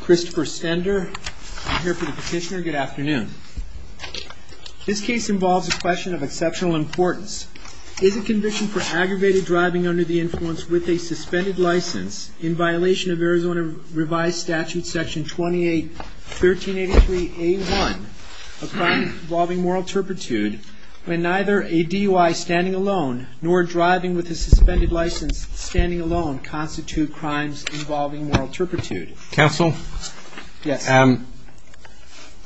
Christopher Stender, I'm here for the petitioner. Good afternoon. This case involves a question of exceptional importance. Is a condition for aggravated driving under the influence with a suspended license, in violation of Arizona Revised Statute Section 28-1383A1, a crime involving moral turpitude, when neither a DUI standing alone nor driving with a suspended license standing alone constitute crimes involving moral turpitude? Counsel,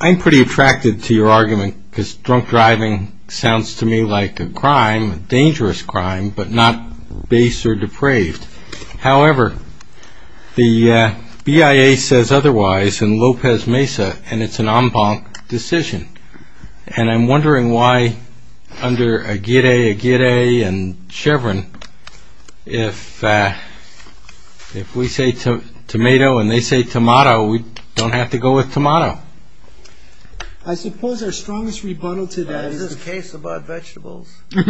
I'm pretty attracted to your argument, because drunk driving sounds to me like a crime, a dangerous crime, but not base or depraved. However, the BIA says otherwise in Lopez Mesa, and it's an en banc decision. And I'm wondering why under Aguirre and Chevron, if we say tomato and they say tomato, we don't have to go with tomato. I suppose our strongest rebuttal to that is... Is this a case about vegetables? It's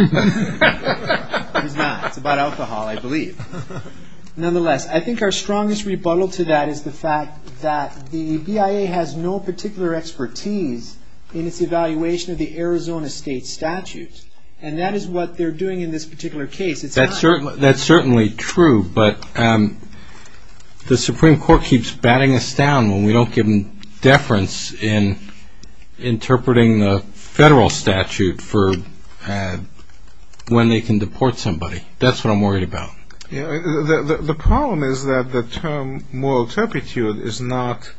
about alcohol, I believe. Nonetheless, I think our strongest rebuttal to that is the fact that the BIA has no particular expertise in its evaluation of the Arizona state statutes. And that is what they're doing in this particular case. That's certainly true, but the Supreme Court keeps batting us down when we don't give them deference in interpreting the federal statute for when they can deport somebody. That's what I'm worried about. The problem is that the term moral turpitude is not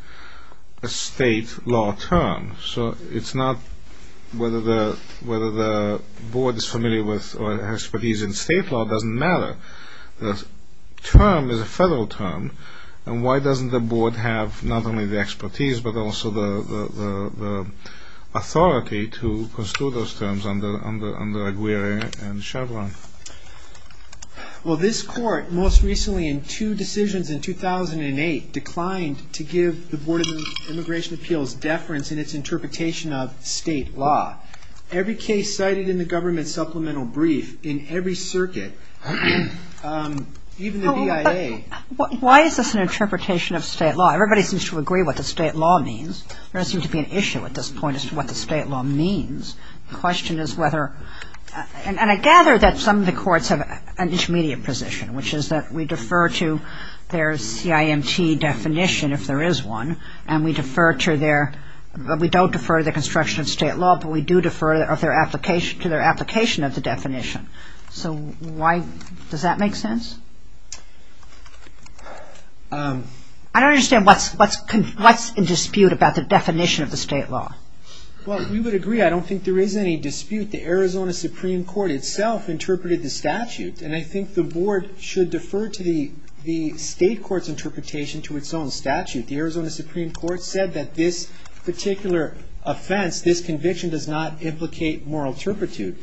a state law term. So it's not whether the board is familiar with or has expertise in state law doesn't matter. The term is a federal term, and why doesn't the board have not only the expertise, but also the authority to pursue those terms under Aguirre and Chevron? Well, this court most recently in two decisions in 2008 declined to give the Board of Immigration Appeals deference in its interpretation of state law. Every case cited in the government supplemental brief in every circuit, even the BIA... Why is this an interpretation of state law? Everybody seems to agree what the state law means. There doesn't seem to be an issue at this point as to what the state law means. The question is whether... And I gather that some of the courts have an intermediate position, which is that we defer to their CIMT definition if there is one, and we defer to their... We don't defer to the construction of state law, but we do defer to their application of the definition. So why... Does that make sense? I don't understand what's in dispute about the definition of the state law. Well, we would agree. I don't think there is any dispute. The Arizona Supreme Court itself interpreted the statute, and I think the board should defer to the state court's interpretation to its own statute. The Arizona Supreme Court said that this particular offense, this conviction, does not implicate moral turpitude.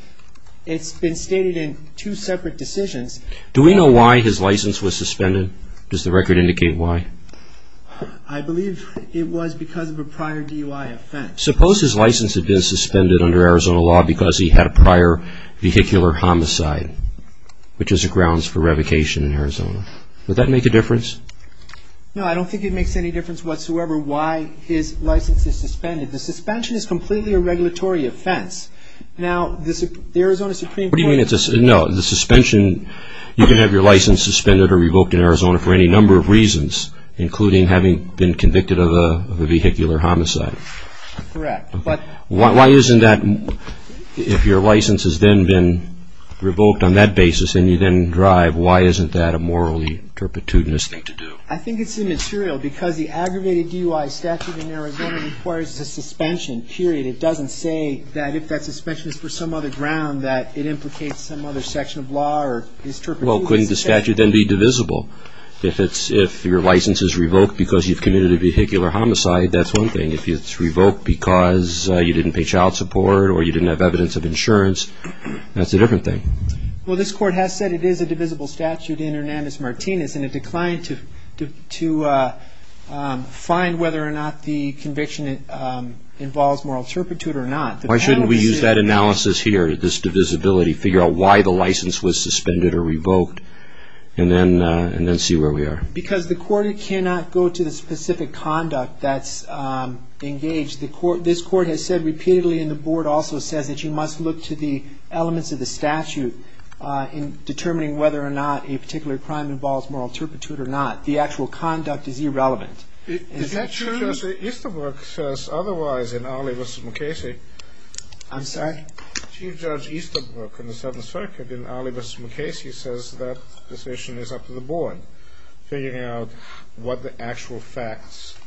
It's been stated in two separate decisions. Do we know why his license was suspended? Does the record indicate why? I believe it was because of a prior DUI offense. Suppose his license had been suspended under Arizona law because he had a prior vehicular homicide, which is the grounds for revocation in Arizona. Would that make a difference? No, I don't think it makes any difference whatsoever why his license is suspended. The suspension is completely a regulatory offense. Now, the Arizona Supreme Court... No, the suspension... You can have your license suspended or revoked in Arizona for any number of reasons, including having been convicted of a vehicular homicide. Correct, but... Why isn't that... If your license has then been revoked on that basis and you then drive, why isn't that a morally turpitudinous thing to do? I think it's immaterial because the aggravated DUI statute in Arizona requires the suspension, period. It doesn't say that if that suspension is for some other ground, that it implicates some other section of law or is turpitudinous... Well, couldn't the statute then be divisible? If your license is revoked because you've committed a vehicular homicide, that's one thing. If it's revoked because you didn't pay child support or you didn't have evidence of insurance, that's a different thing. Well, this Court has said it is a divisible statute in Hernandez-Martinez, and it declined to find whether or not the conviction involves moral turpitude or not. Why shouldn't we use that analysis here, this divisibility, figure out why the license was suspended or revoked, and then see where we are? Because the Court cannot go to the specific conduct that's engaged. This Court has said repeatedly, and the Board also said, that you must look to the elements of the statute in determining whether or not a particular crime involves moral turpitude or not. The actual conduct is irrelevant. Is that true? Easterbrook says otherwise in Ali v. McCasey. I'm sorry? Chief Judge Easterbrook in the Seventh Circuit in Ali v. McCasey says that decision is up to the Board, figuring out what the actual facts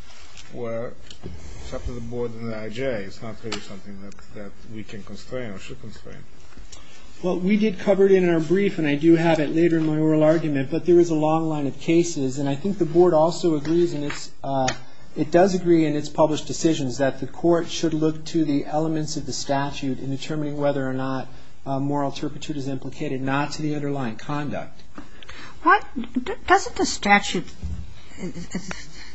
were. It's up to the Board and the IJ. It's not really something that we can constrain or should constrain. Well, we did cover it in our brief, and I do have it later in my oral argument, but there is a long line of cases, and I think the Board also agrees, and it does agree in its published decisions, that the Court should look to the elements of the statute in determining whether or not moral turpitude is implicated, not to the underlying conduct. Doesn't the statute, I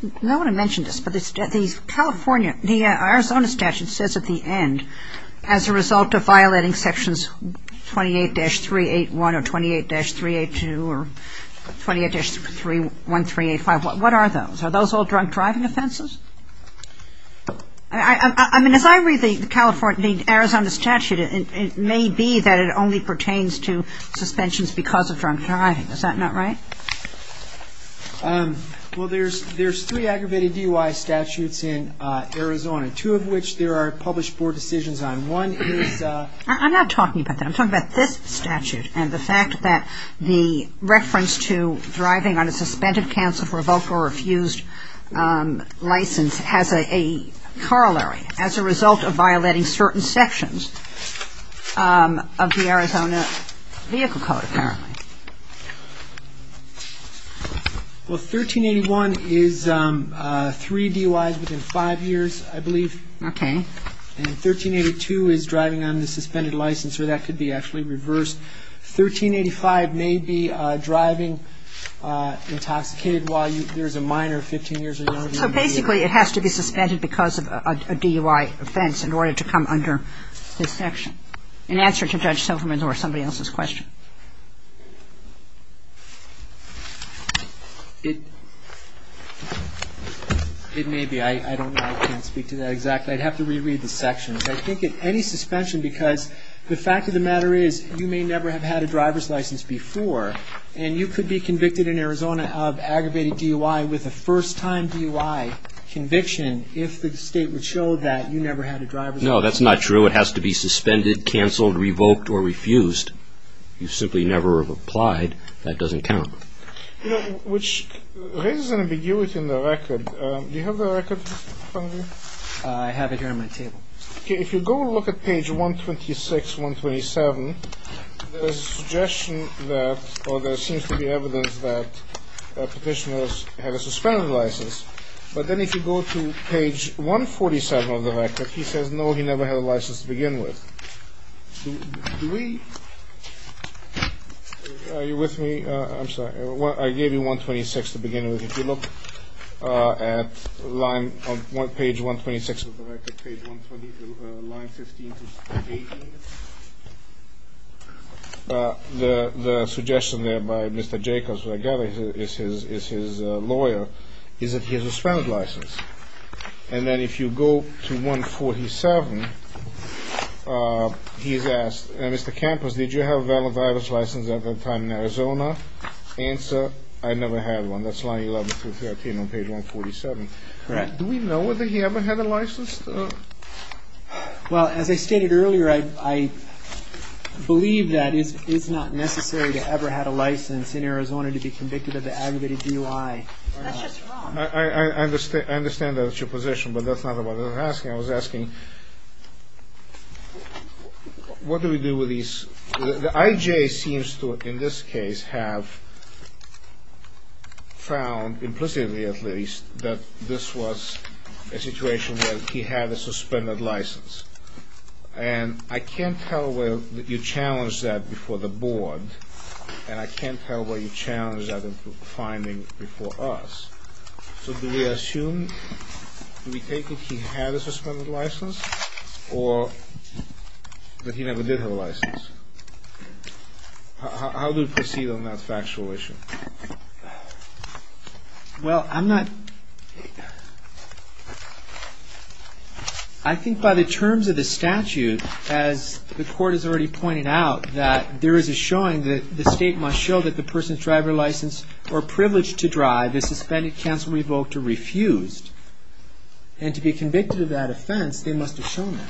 don't want to mention this, but the Arizona statute says at the end, as a result of violating Sections 28-381 or 28-382 or 28-1385, what are those? Are those all drunk driving offenses? I mean, if I read the Arizona statute, it may be that it only pertains to suspensions because of drunk driving. Is that not right? Well, there's three aggravated DUI statutes in Arizona, two of which there are published Board decisions on. One is... I'm not talking about that. I'm talking about this statute, and the fact that the reference to driving on a suspended, cancelled, revoked, or refused license has a corollary as a result of violating certain sections of the Arizona Vehicle Code, apparently. Well, 1381 is three DUIs within five years, I believe. Okay. And 1382 is driving on the suspended license, so that could be actually reversed. 1385 may be driving intoxicated while there's a minor, 15 years or longer. So, basically, it has to be suspended because of a DUI offense in order to come under this section, in answer to Judge Silverman's or somebody else's question. It may be. I don't know. I can't speak to that exactly. I'd have to reread the sections. I think it's any suspension because the fact of the matter is, you may never have had a driver's license before, and you could be convicted in Arizona of aggravated DUI with a first-time DUI conviction if the state would show that you never had a driver's license. No, that's not true. It has to be suspended, cancelled, revoked, or refused. You simply never have applied. That doesn't count. You know, which raises an ambiguity in the record. Do you have the record on you? I have it here on my table. Okay. If you go and look at page 126, 127, there seems to be evidence that petitioners have a suspended license, but then if you go to page 147 of the record, he says, no, he never had a license to begin with. Are you with me? I'm sorry. I gave you 126 to begin with. If you look at line, on page 126 of the record, page 126, line 15, page 18, the suggestion there by Mr. Jacobs, who I gather is his lawyer, is that he has a suspended license. And then if you go to 147, he's asked, Mr. Campos, did you have a valid driver's license at any time in Arizona? Answer, I never had one. That's line 11, page 147. Correct. Do we know whether he ever had a license? Well, as I stated earlier, I believe that it's not necessary to ever have a license in Arizona to be convicted of the aggravated DUI. That's just wrong. I understand that's your position, but that's not what I was asking. I was asking, what do we do with these? The IJ seems to, in this case, have found, implicitly at least, that this was a situation where he had a suspended license. And I can't tell whether you challenged that before the board, and I can't tell whether you challenged that in finding before us. So do we assume, do we take it he had a suspended license, or that he never did have a license? How do we proceed on that factual issue? Well, I'm not, I think by the terms of the statute, as the court has already pointed out, that there is a showing that the state must show that the person's driver's license or privilege to drive is suspended, canceled, revoked, or refused. And to be convicted of that offense, they must have shown that.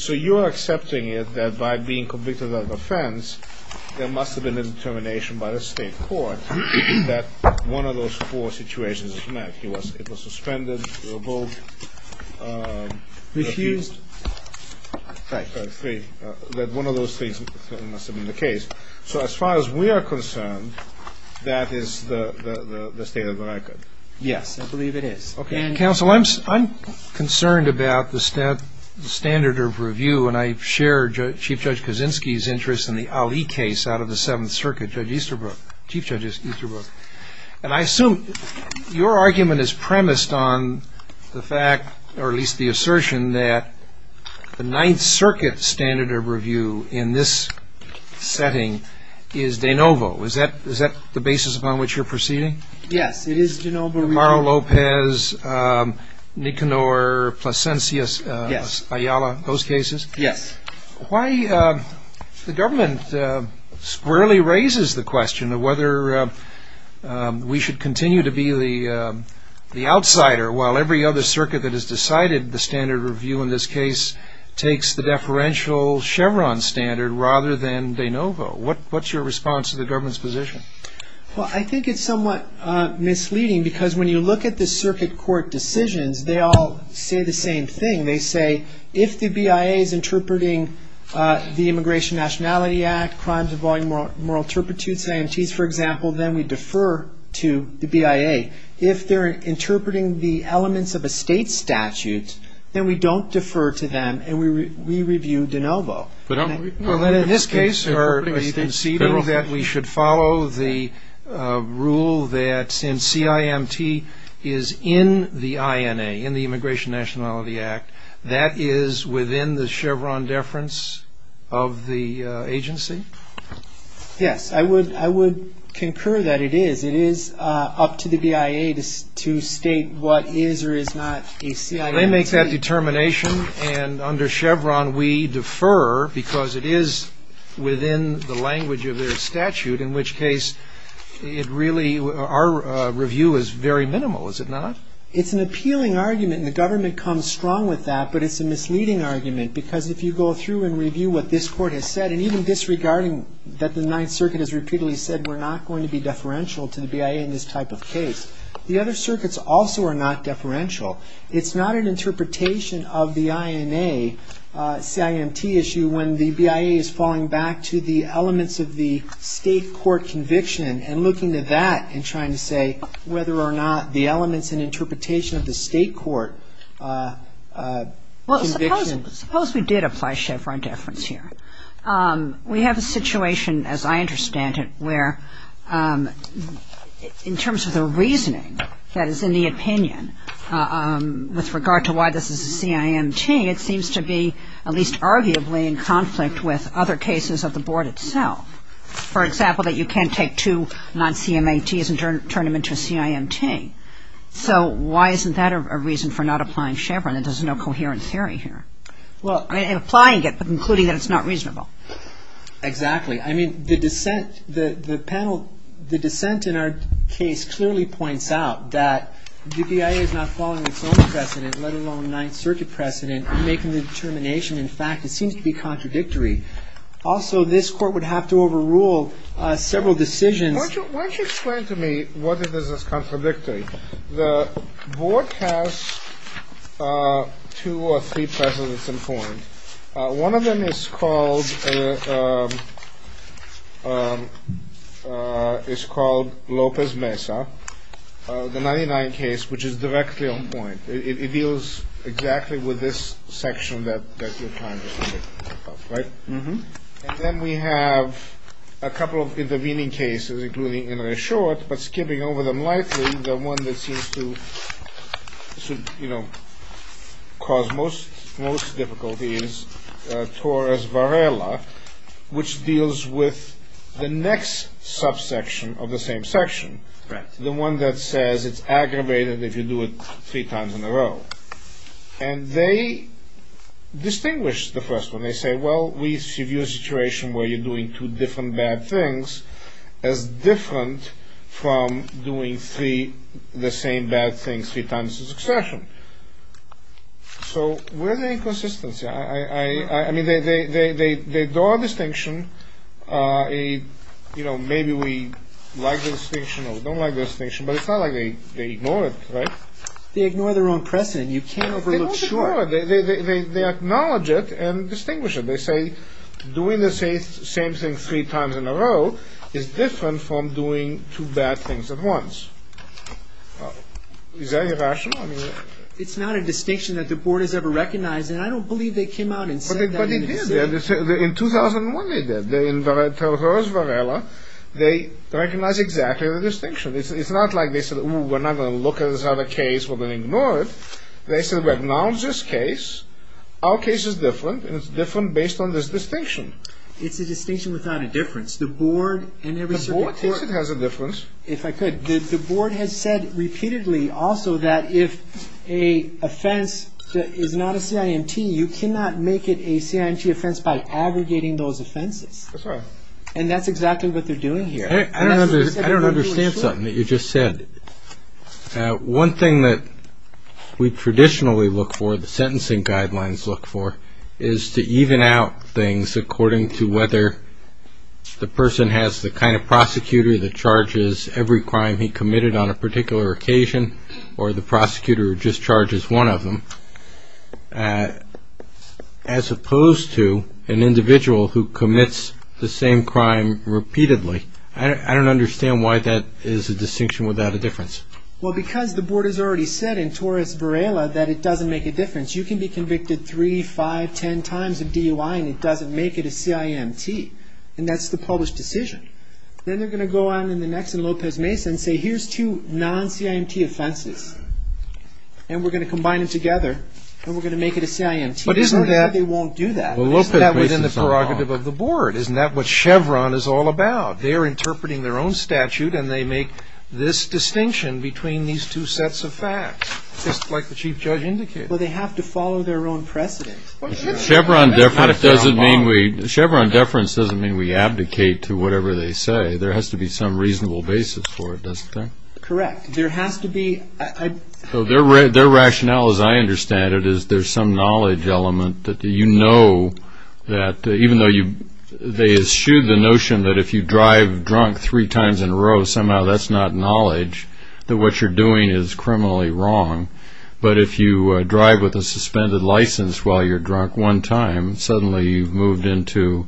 So you're accepting that by being convicted of an offense, there must have been a determination by the state court that one of those four situations was met. It was suspended, revoked, refused. Right. That one of those things must have been the case. So as far as we are concerned, that is the state of the record. Yes, I believe it is. Counsel, I'm concerned about the standard of review, and I share Chief Judge Kaczynski's interest in the Ali case out of the Seventh Circuit, Judge Easterbrook, Chief Judge Easterbrook. And I assume your argument is premised on the fact, or at least the assertion, that the Ninth Circuit standard of review in this setting is de novo. Is that the basis upon which you're proceeding? Yes, it is de novo. Romero-Lopez, Nikanor, Placentius, Ayala, those cases? Yes. Why the government squarely raises the question of whether we should continue to be the outsider while every other circuit that has decided the standard of review in this case takes the deferential Chevron standard rather than de novo? What's your response to the government's position? Well, I think it's somewhat misleading because when you look at the circuit court decisions, they all say the same thing. They say if the BIA is interpreting the Immigration Nationality Act, crimes involving moral turpitudes, AMTs, for example, then we defer to the BIA. If they're interpreting the elements of a state statute, then we don't defer to them and we review de novo. In this case, are you conceivable that we should follow the rule that since CIMT is in the INA, in the Immigration Nationality Act, that is within the Chevron deference of the agency? Yes. I would concur that it is. It is up to the BIA to state what is or is not a CIMT. They make that determination and under Chevron we defer because it is within the language of their statute, in which case our review is very minimal, is it not? It's an appealing argument and the government comes strong with that, but it's a misleading argument because if you go through and review what this court has said, and even disregarding that the Ninth Circuit has repeatedly said we're not going to be deferential to the BIA in this type of case, the other circuits also are not deferential. It's not an interpretation of the INA CIMT issue when the BIA is falling back to the elements of the state court conviction and looking at that and trying to say whether or not the elements and interpretation of the state court conviction. Suppose we did apply Chevron deference here. We have a situation, as I understand it, where in terms of the reasoning that is in the opinion, with regard to why this is a CIMT, it seems to be at least arguably in conflict with other cases of the board itself. For example, that you can't take two non-CMATs and turn them into a CIMT. So why isn't that a reason for not applying Chevron? There's no coherence here. And applying it, but concluding that it's not reasonable. Exactly. I mean, the dissent in our case clearly points out that the BIA is not following its own precedent, let alone the Ninth Circuit precedent in making the determination. In fact, it seems to be contradictory. Also, this court would have to overrule several decisions. Why don't you explain to me what it is that's contradictory? The board has two or three precedents in point. One of them is called Lopez-Mesa, the 99 case, which is directly on point. It deals exactly with this section that you're trying to make, right? And then we have a couple of intervening cases, including Inouye Short, but skipping over them lightly, the one that seems to cause most difficulties, Torres-Varela, which deals with the next subsection of the same section, the one that says it's aggravated if you do it three times in a row. And they distinguish the first one. They say, well, we see your situation where you're doing two different bad things as different from doing the same bad thing three times in succession. So where's the inconsistency? I mean, they draw a distinction. You know, maybe we like the distinction or we don't like the distinction, but it's not like they ignore it, right? They ignore their own precedent. You can't really look short. They acknowledge it and distinguish it. They say doing the same thing three times in a row is different from doing two bad things at once. Is that irrational? It's not a distinction that the board has ever recognized, and I don't believe they came out and said that. But they did. In 2001, they did. In Torres-Varela, they recognized exactly the distinction. It's not like they said, ooh, we're not going to look at this other case. We'll ignore it. They said, well, acknowledge this case. Our case is different, and it's different based on this distinction. It's a distinction without a difference. The board never said that. The board thinks it has a difference. If I could, the board has said repeatedly also that if a offense is not a CINT, you cannot make it a CINT offense by aggregating those offenses. That's right. And that's exactly what they're doing here. I don't understand something that you just said. One thing that we traditionally look for, the sentencing guidelines look for, is to even out things according to whether the person has the kind of prosecutor that charges every crime he committed on a particular occasion or the prosecutor who just charges one of them, as opposed to an individual who commits the same crime repeatedly. I don't understand why that is a distinction without a difference. Well, because the board has already said in Torres Varela that it doesn't make a difference. You can be convicted three, five, ten times in DUI, and it doesn't make it a CINT. And that's the published decision. Then they're going to go on in the next in Lopez-Mason and say, here's two non-CINT offenses, and we're going to combine them together, and we're going to make it a CINT. But isn't that the prerogative of the board? Isn't that what Chevron is all about? They're interpreting their own statute, and they make this distinction between these two sets of facts, just like the chief judge indicated. Well, they have to follow their own precedent. Chevron deference doesn't mean we advocate to whatever they say. There has to be some reasonable basis for it, doesn't there? Correct. There has to be. So their rationale, as I understand it, is there's some knowledge element that you know that, even though they eschewed the notion that if you drive drunk three times in a row, somehow that's not knowledge, that what you're doing is criminally wrong. But if you drive with a suspended license while you're drunk one time, suddenly you've moved into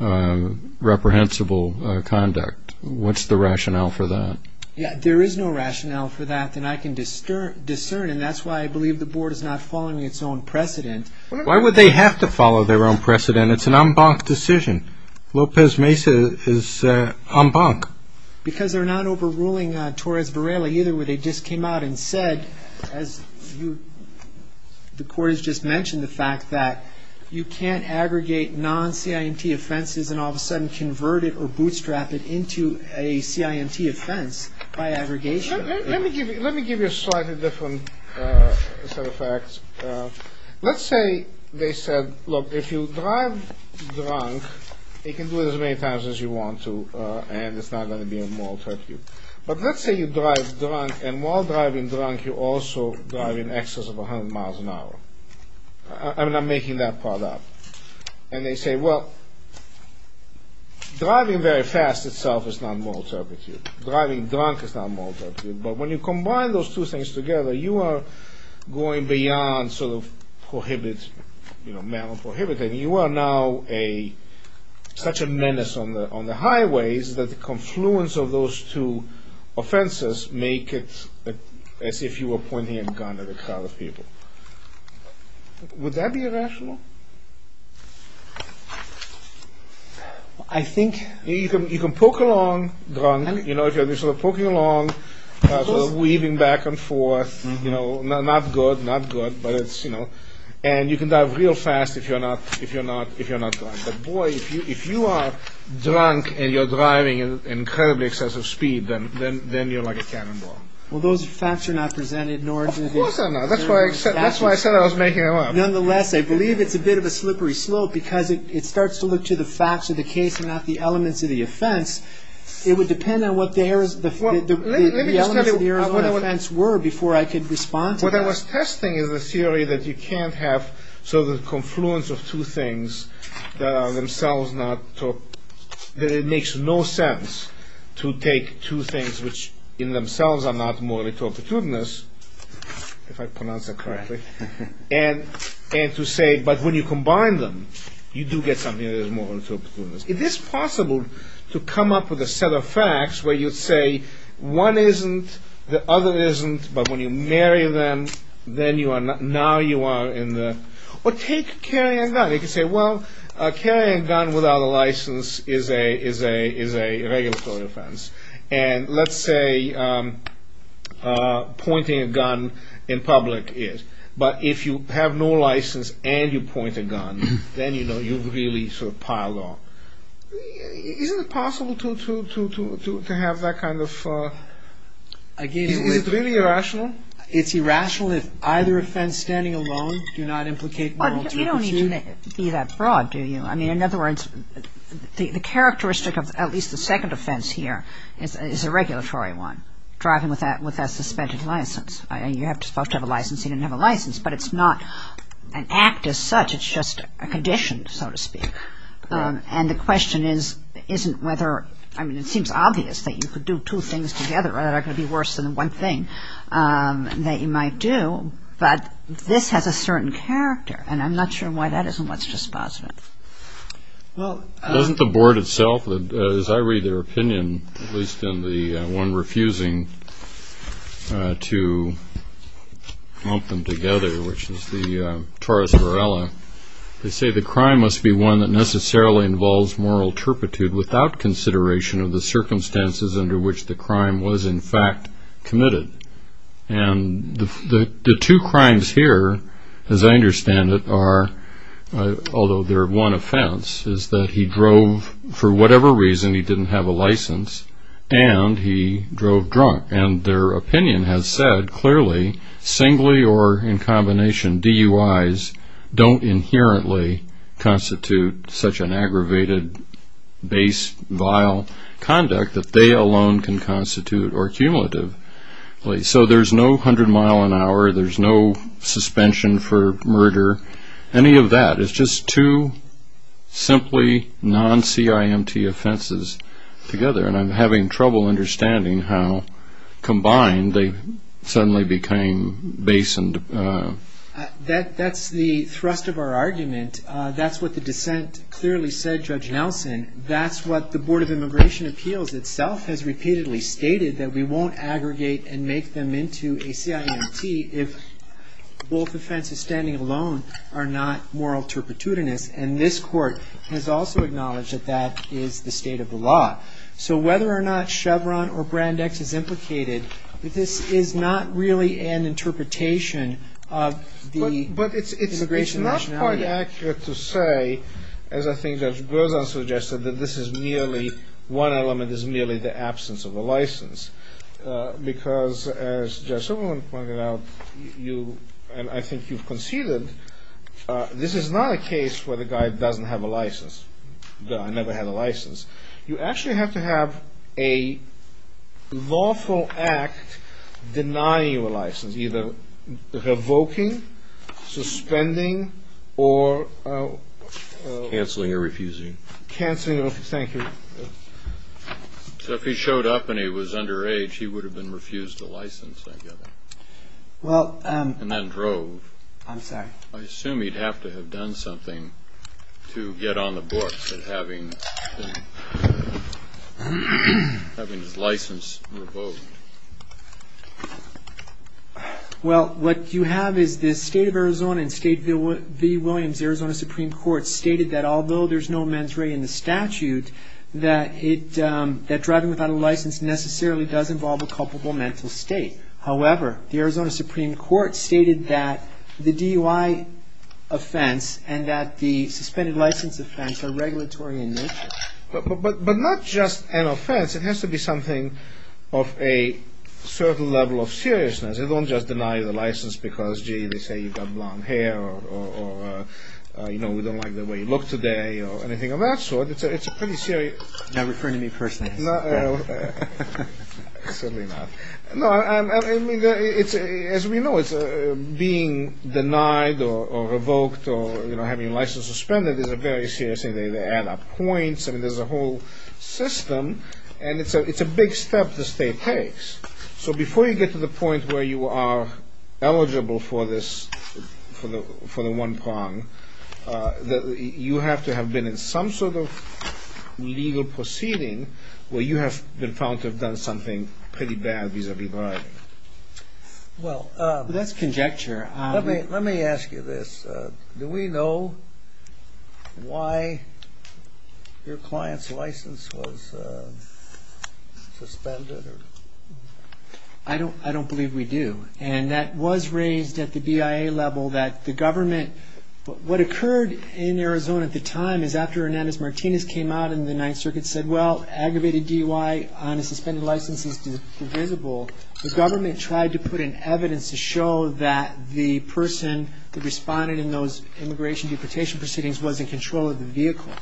reprehensible conduct. What's the rationale for that? Yeah, there is no rationale for that that I can discern, and that's why I believe the board is not following its own precedent. Why would they have to follow their own precedent? It's an en banc decision. Lopez Mesa is en banc. Because they're not overruling Torres Varela either. They just came out and said, as the court has just mentioned, the fact that you can't aggregate non-CINT offenses and all of a sudden convert it or bootstrap it into a CINT offense by aggregation. Let me give you a slightly different set of facts. Let's say they said, look, if you drive drunk, you can do it as many times as you want to, and it's not going to be a moral turpitude. But let's say you drive drunk, and while driving drunk, you're also driving in excess of 100 miles an hour. I'm not making that part up. And they say, well, driving very fast itself is not a moral turpitude. Driving drunk is not a moral turpitude. But when you combine those two things together, you are going beyond sort of prohibits, you know, moral prohibiting. You are now such a menace on the highways that the confluence of those two offenses make it as if you were pointing a gun at a crowd of people. Would that be irrational? I think you can poke along drunk. You know, if you're poking along, sort of weaving back and forth, you know, not good, not good, but it's, you know. And you can drive real fast if you're not drunk. But, boy, if you are drunk and you're driving at an incredibly excessive speed, then you're like a cannonball. Well, those facts are not presented, nor is it... Of course they're not. That's why I said I was making it up. Nonetheless, I believe it's a bit of a slippery slope because it starts to look to the facts of the case and not the elements of the offense. It would depend on what the elements of the offense were before I could respond to that. What I was testing is a theory that you can't have sort of the confluence of two things that are themselves not... that it makes no sense to take two things which in themselves are not morally tortitudinous, if I pronounce that correctly, and to say, but when you combine them, you do get something that is morally tortitudinous. Is this possible to come up with a set of facts where you say one isn't, the other isn't, but when you marry them, then you are not... now you are in the... Well, take carrying a gun. You could say, well, carrying a gun without a license is a regulatory offense. And let's say pointing a gun in public is. But if you have no license and you point a gun, then, you know, you've really sort of piled on. Isn't it possible to have that kind of... Again, it's really irrational. It's irrational if either offense standing alone do not implicate... You don't need to be that broad, do you? I mean, in other words, the characteristic of at least the second offense here is a regulatory one, driving with a suspended license. You have to have a license. He didn't have a license, but it's not an act as such. It's just a condition, so to speak. And the question is, isn't whether... I mean, it seems obvious that you could do two things together that are going to be worse than one thing that you might do, but this has a certain character, and I'm not sure why that isn't what's just positive. Well, doesn't the board itself, as I read their opinion, at least on the one refusing to lump them together, which is the Torres Varela, they say the crime must be one that necessarily involves moral turpitude without consideration of the circumstances under which the crime was, in fact, committed. And the two crimes here, as I understand it, are, although they're one offense, is that he drove for whatever reason, he didn't have a license, and he drove drunk. And their opinion has said clearly singly or in combination DUIs don't inherently constitute such an aggravated, base, vile conduct that they alone can constitute or cumulative. So there's no 100 mile an hour, there's no suspension for murder, any of that. It's just two simply non-CIMT offenses together, and I'm having trouble understanding how combined they suddenly became base and... That's the thrust of our argument. That's what the dissent clearly said, Judge Nelson. That's what the Board of Immigration Appeals itself has repeatedly stated, that we won't aggregate and make them into a CIMT if both offenses standing alone are not moral turpitudinous. And this court has also acknowledged that that is the state of the law. So whether or not Chevron or Brand X is implicated, this is not really an interpretation of the immigration rationality. And it's inaccurate to say, as I think that Grosdon suggested, that this is merely, one element is merely the absence of a license. Because as Judge Silverman pointed out, and I think you've conceded, this is not a case where the guy doesn't have a license. The guy never had a license. You actually have to have a lawful act denying you a license, either revoking, suspending, or... Canceling or refusing. Canceling or...thank you. So if he showed up and he was underage, he would have been refused a license, I guess. Well... And then drove. I'm sorry. I assume he'd have to have done something to get on the books and having his license revoked. Well, what you have is the state of Arizona, in State v. Williams, the Arizona Supreme Court stated that although there's no mens rea in the statute, that driving without a license necessarily does involve a culpable mental state. However, the Arizona Supreme Court stated that the DUI offense and that the suspended license offense are regulatory in nature. But not just an offense. It has to be something of a certain level of seriousness. They don't just deny the license because, gee, they say you've got blonde hair, or, you know, we don't like the way you look today, or anything of that sort. It's a pretty serious... You're not referring to me personally. No, certainly not. No, I mean, as we know, being denied or revoked or, you know, having a license suspended is a very serious thing. They add up points. I mean, there's a whole system, and it's a big step the state takes. So before you get to the point where you are eligible for this, for the one prong, you have to have been in some sort of legal proceeding where you have been found to have done something pretty bad vis-a-vis. Well, that's conjecture. Let me ask you this. Do we know why your client's license was suspended? I don't believe we do. And that was raised at the BIA level that the government... What occurred in Arizona at the time is after Hernandez-Martinez came out and the Ninth Circuit said, well, aggravated DUI on a suspended license is divisible, the government tried to put in evidence to show that the person who responded in those immigration deportation proceedings was in control of the vehicle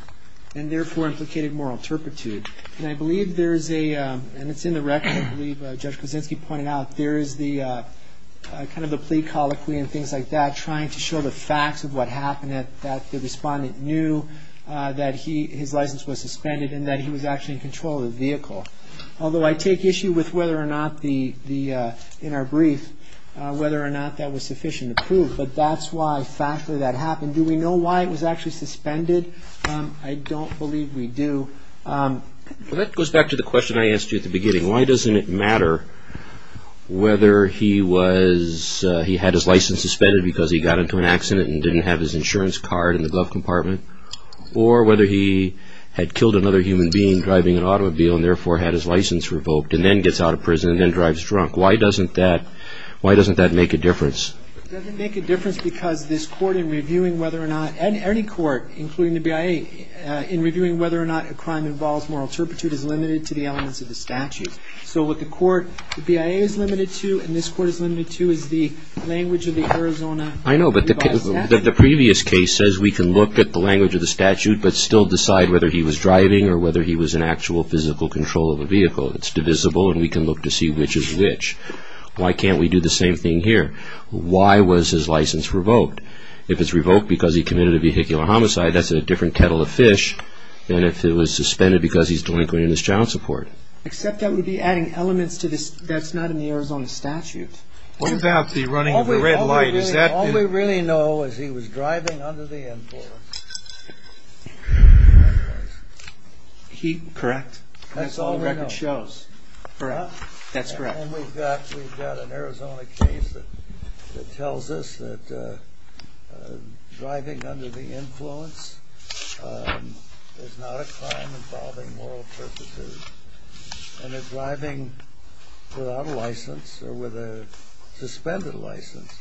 and, therefore, implicated moral turpitude. And I believe there's a... And it's in the record. And I believe Judge Krasinski pointed out there is the kind of the plea colloquy and things like that trying to show the facts of what happened, that the respondent knew that his license was suspended and that he was actually in control of the vehicle. Although I take issue with whether or not the... In our brief, whether or not that was sufficient to prove. But that's why, factually, that happened. Do we know why it was actually suspended? I don't believe we do. That goes back to the question I asked you at the beginning. Why doesn't it matter whether he was... He had his license suspended because he got into an accident and didn't have his insurance card in the glove compartment or whether he had killed another human being driving an automobile and, therefore, had his license revoked and then gets out of prison and then drives drunk. Why doesn't that make a difference? It doesn't make a difference because this court in reviewing whether or not... ...is limited to the elements of the statute. So, what the court... I know, but the previous case says we can look at the language of the statute but still decide whether he was driving or whether he was in actual physical control of the vehicle. It's divisible and we can look to see which is which. Why can't we do the same thing here? Why was his license revoked? If it's revoked because he committed a vehicular homicide, that's a different kettle of fish than if it was suspended because he's delinquent in his child support. Except that would be adding elements that's not in the Arizona statute. What about the running of the red light? All we really know is he was driving under the influence. Correct. That's all the record shows. Correct. That's correct. And we've got an Arizona case that tells us that driving under the influence is not a crime involving moral turpitude. And that driving without a license or with a suspended license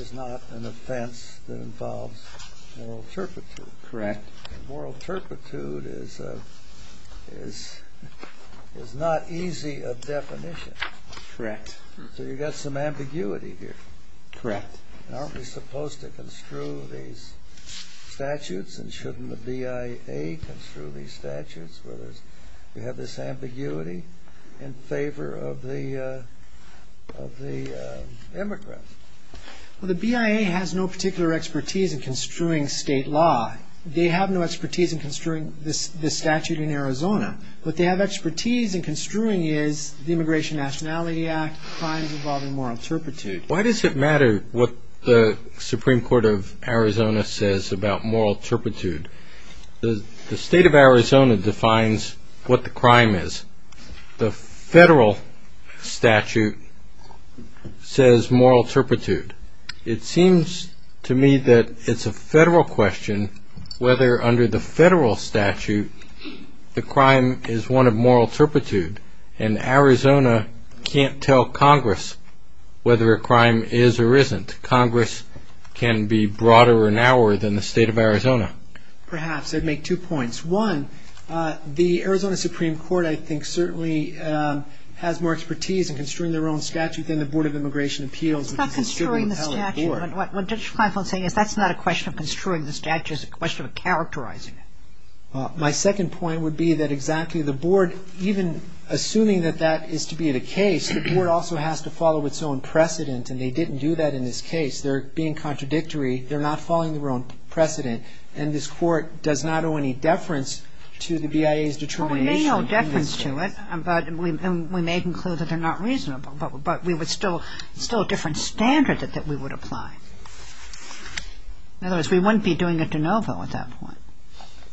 is not an offense that involves moral turpitude. Correct. Moral turpitude is not easy of definition. Correct. So you've got some ambiguity here. Correct. Aren't we supposed to construe these statutes? And shouldn't the BIA construe these statutes where we have this ambiguity in favor of the immigrants? The BIA has no particular expertise in construing state law. They have no expertise in construing this statute in Arizona. What they have expertise in construing is the Immigration and Nationality Act, crimes involving moral turpitude. Why does it matter what the Supreme Court of Arizona says about moral turpitude? The state of Arizona defines what the crime is. The federal statute says moral turpitude. It seems to me that it's a federal question whether under the federal statute the crime is one of moral turpitude, and Arizona can't tell Congress whether a crime is or isn't. Congress can be broader or narrower than the state of Arizona. Perhaps. I'd make two points. One, the Arizona Supreme Court, I think, certainly has more expertise in construing their own statutes than the Board of Immigration Appeals. It's not construing the statute. What Judge Feinfeld is saying is that's not a question of construing the statute. It's a question of characterizing it. My second point would be that exactly the board, even assuming that that is to be the case, the board also has to follow its own precedent, and they didn't do that in this case. They're being contradictory. They're not following their own precedent, and this court does not owe any deference to the BIA's determination. We may owe deference to it, and we may conclude that they're not reasonable, but we would still, it's still a different standard that we would apply. In other words, we wouldn't be doing a de novo at that point.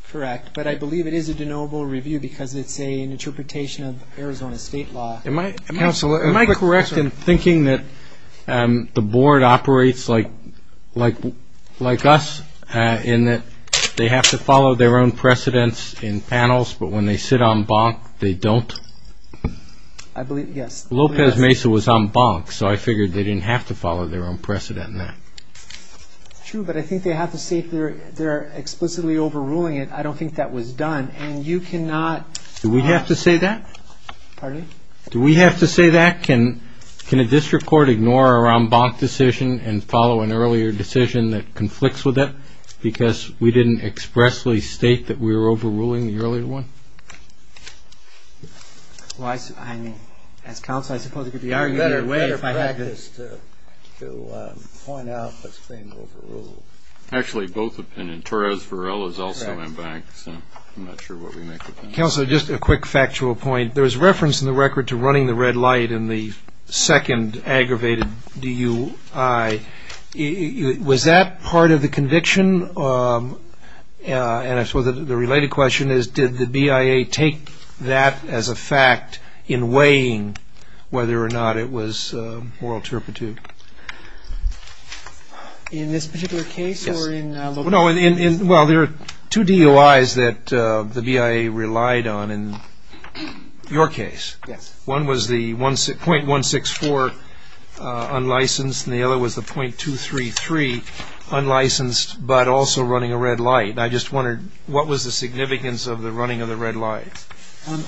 Correct. But I believe it is a de novo review because it's an interpretation of Arizona state law. Am I correct in thinking that the board operates like us, in that they have to follow their own precedents in panels, but when they sit on bonk, they don't? I believe, yes. Lopez Mesa was on bonk, so I figured they didn't have to follow their own precedent in that. True, but I think they have to see if they're explicitly overruling it. I don't think that was done, and you cannot. Do we have to say that? Pardon? Do we have to say that? Can a district court ignore our on bonk decision and follow an earlier decision that conflicts with it because we didn't expressly state that we were overruling the earlier one? Well, I mean, as counsel, I suppose it could be argued that way. It would be better if I had this to point out this thing overruled. Actually, both opinion. Torres-Varela is also on bonk, so I'm not sure what we make of it. Counselor, just a quick factual point. There was reference in the record to running the red light in the second aggravated DUI. Was that part of the conviction? The question, and I suppose the related question, is did the BIA take that as a fact in weighing whether or not it was moral turpitude? In this particular case or in local? Well, there are two DUIs that the BIA relied on in your case. One was the .164 unlicensed and the other was the .233 unlicensed but also running a red light. I just wondered what was the significance of the running of the red light?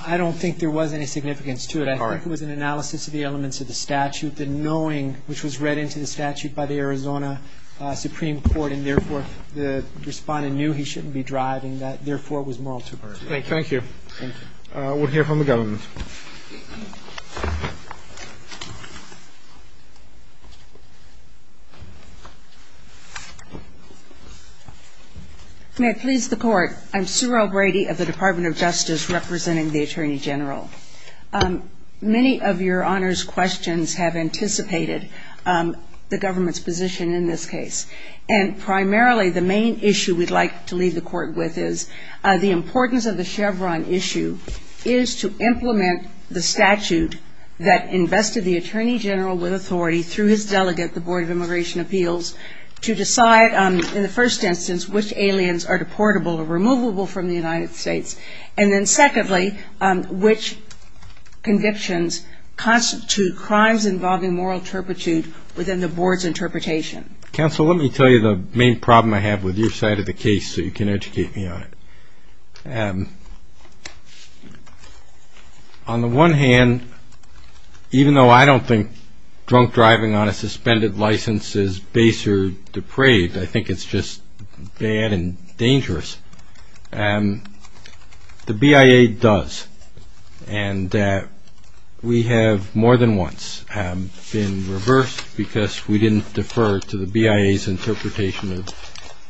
I don't think there was any significance to it. I think it was an analysis of the elements of the statute, the knowing which was read into the statute by the Arizona Supreme Court, and therefore the respondent knew he shouldn't be driving that, therefore it was moral turpitude. Thank you. Thank you. We'll hear from the government. May I please the court? I'm Sue O'Brady of the Department of Justice representing the Attorney General. Many of your honors questions have anticipated the government's position in this case, and primarily the main issue we'd like to leave the court with is the importance of the Chevron issue is to implement the statute that invested the Attorney General with authority through his delegate, the Board of Immigration Appeals, to decide in the first instance which aliens are deportable or removable from the United States, and then secondly, which convictions constitute crimes involving moral turpitude within the board's interpretation. Counsel, let me tell you the main problem I have with your side of the case so you can educate me on it. On the one hand, even though I don't think drunk driving on a suspended license is base or depraved, I think it's just bad and dangerous, the BIA does, and we have more than once been reversed because we didn't defer to the BIA's interpretation of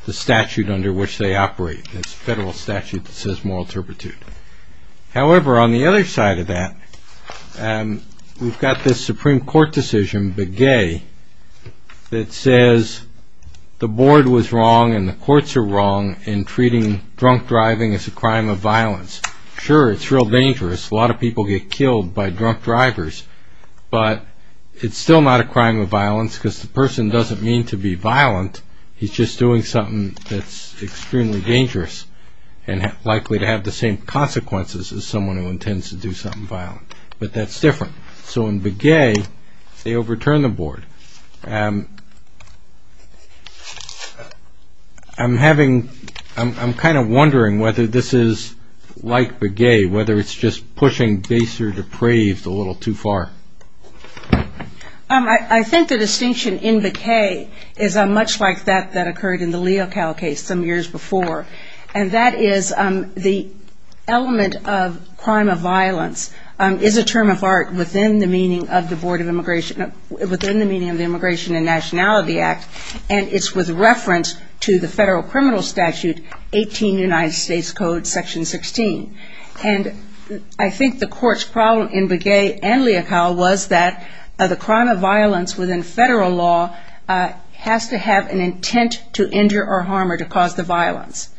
the statute under which they operate, this federal statute that says moral turpitude. However, on the other side of that, we've got this Supreme Court decision, Begay, that says the board was wrong and the courts are wrong in treating drunk driving as a crime of violence. Sure, it's real dangerous, a lot of people get killed by drunk drivers, but it's still not a crime of violence because the person doesn't mean to be violent, he's just doing something that's extremely dangerous and likely to have the same consequences as someone who intends to do something violent, but that's different. So in Begay, they overturn the board. I'm having, I'm kind of wondering whether this is like Begay, whether it's just pushing base or depraved a little too far. I think the distinction in Begay is much like that that occurred in the Leocal case some years before, and that is the element of crime of violence is a term of art within the meaning of the Immigration and Nationality Act, and it's with reference to the federal criminal statute, 18 United States Code, Section 16. And I think the court's problem in Begay and Leocal was that the crime of violence within federal law has to have an intent to injure or harm or to cause the violence.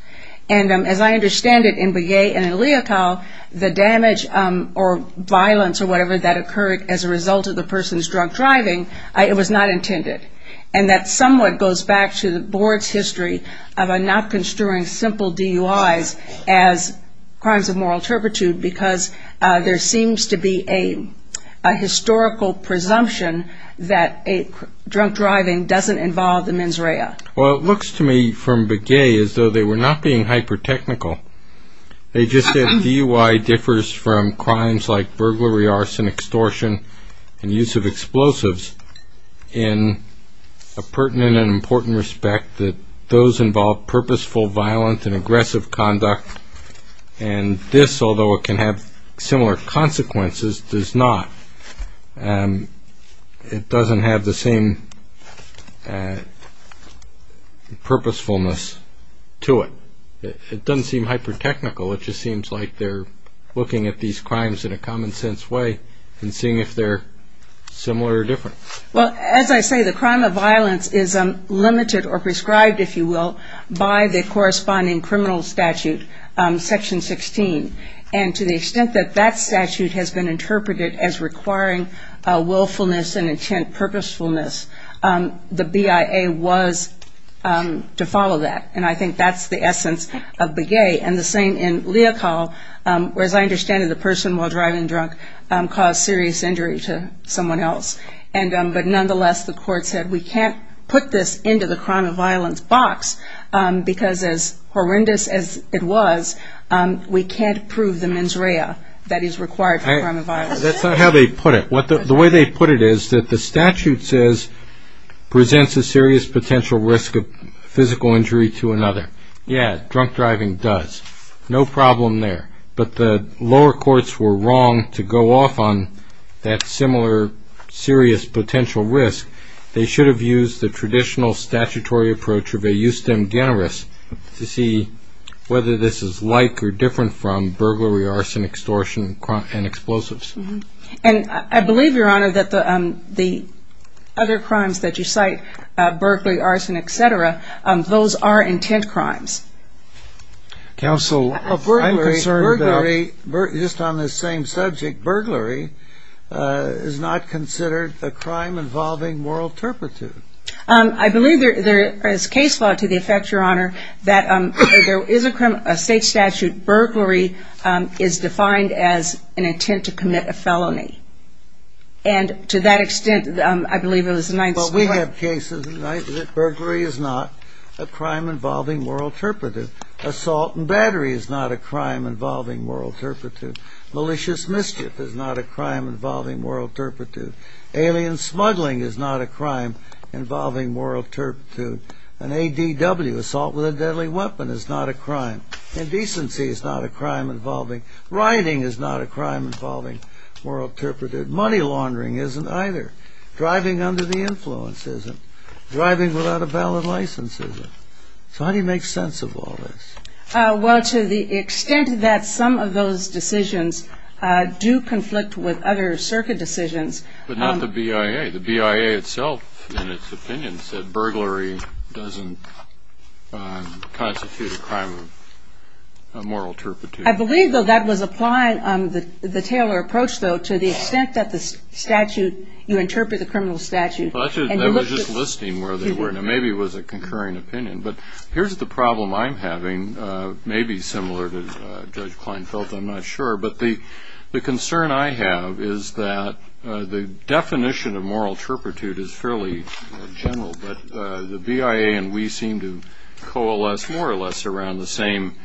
And as I understand it in Begay and Leocal, the damage or violence or whatever that occurred as a result of the person's drunk driving, it was not intended. And that somewhat goes back to the board's history of not construing simple DUIs as crimes of moral turpitude, because there seems to be a historical presumption that drunk driving doesn't involve the mens rea. Well, it looks to me from Begay as though they were not being hyper-technical. They just said DUI differs from crimes like burglary, arson, extortion, and use of explosives in a pertinent and important respect that those involve purposeful violence and aggressive conduct, and this, although it can have similar consequences, does not. It doesn't have the same purposefulness to it. It doesn't seem hyper-technical. It just seems like they're looking at these crimes in a common-sense way and seeing if they're similar or different. Well, as I say, the crime of violence is limited or prescribed, if you will, by the corresponding criminal statute, Section 16. And to the extent that that statute has been interpreted as requiring willfulness and intent purposefulness, the BIA was to follow that, and I think that's the essence of Begay, and the same in Leocal, where, as I understand it, the person while driving drunk caused serious injury to someone else. But nonetheless, the court said we can't put this into the crime of violence box, because as horrendous as it was, we can't prove the mens rea that is required for crime of violence. That's not how they put it. The way they put it is that the statute says presents a serious potential risk of physical injury to another. Yeah, drunk driving does. No problem there. But the lower courts were wrong to go off on that similar serious potential risk. They should have used the traditional statutory approach of a justem generis to see whether this is like or different from burglary, arson, extortion, and explosives. And I believe, Your Honor, that the other crimes that you cite, burglary, arson, et cetera, those are intent crimes. Counsel, I'm concerned that just on the same subject, burglary is not considered a crime involving moral turpitude. I believe there is case law to the effect, Your Honor, that there is a crime, a state statute, burglary is defined as an intent to commit a felony. And to that extent, I believe there was a 19th century... Well, we have cases that burglary is not a crime involving moral turpitude. Assault and battery is not a crime involving moral turpitude. Malicious mischief is not a crime involving moral turpitude. Alien smuggling is not a crime involving moral turpitude. An ADW, assault with a deadly weapon, is not a crime. Indecency is not a crime involving... Money laundering isn't either. Driving under the influence isn't. Driving without a valid license isn't. So how do you make sense of all this? Well, to the extent that some of those decisions do conflict with other circuit decisions... But not the BIA. The BIA itself, in its opinion, said burglary doesn't constitute a crime of moral turpitude. I believe, though, that was applied on the Taylor approach, though, to the extent that the statute, you interpret the criminal statute... I was just listing where they were, and maybe it was a concurring opinion. But here's the problem I'm having, maybe similar to Judge Kleinfeld, I'm not sure. But the concern I have is that the definition of moral turpitude is fairly general, but the BIA and we seem to coalesce more or less around the same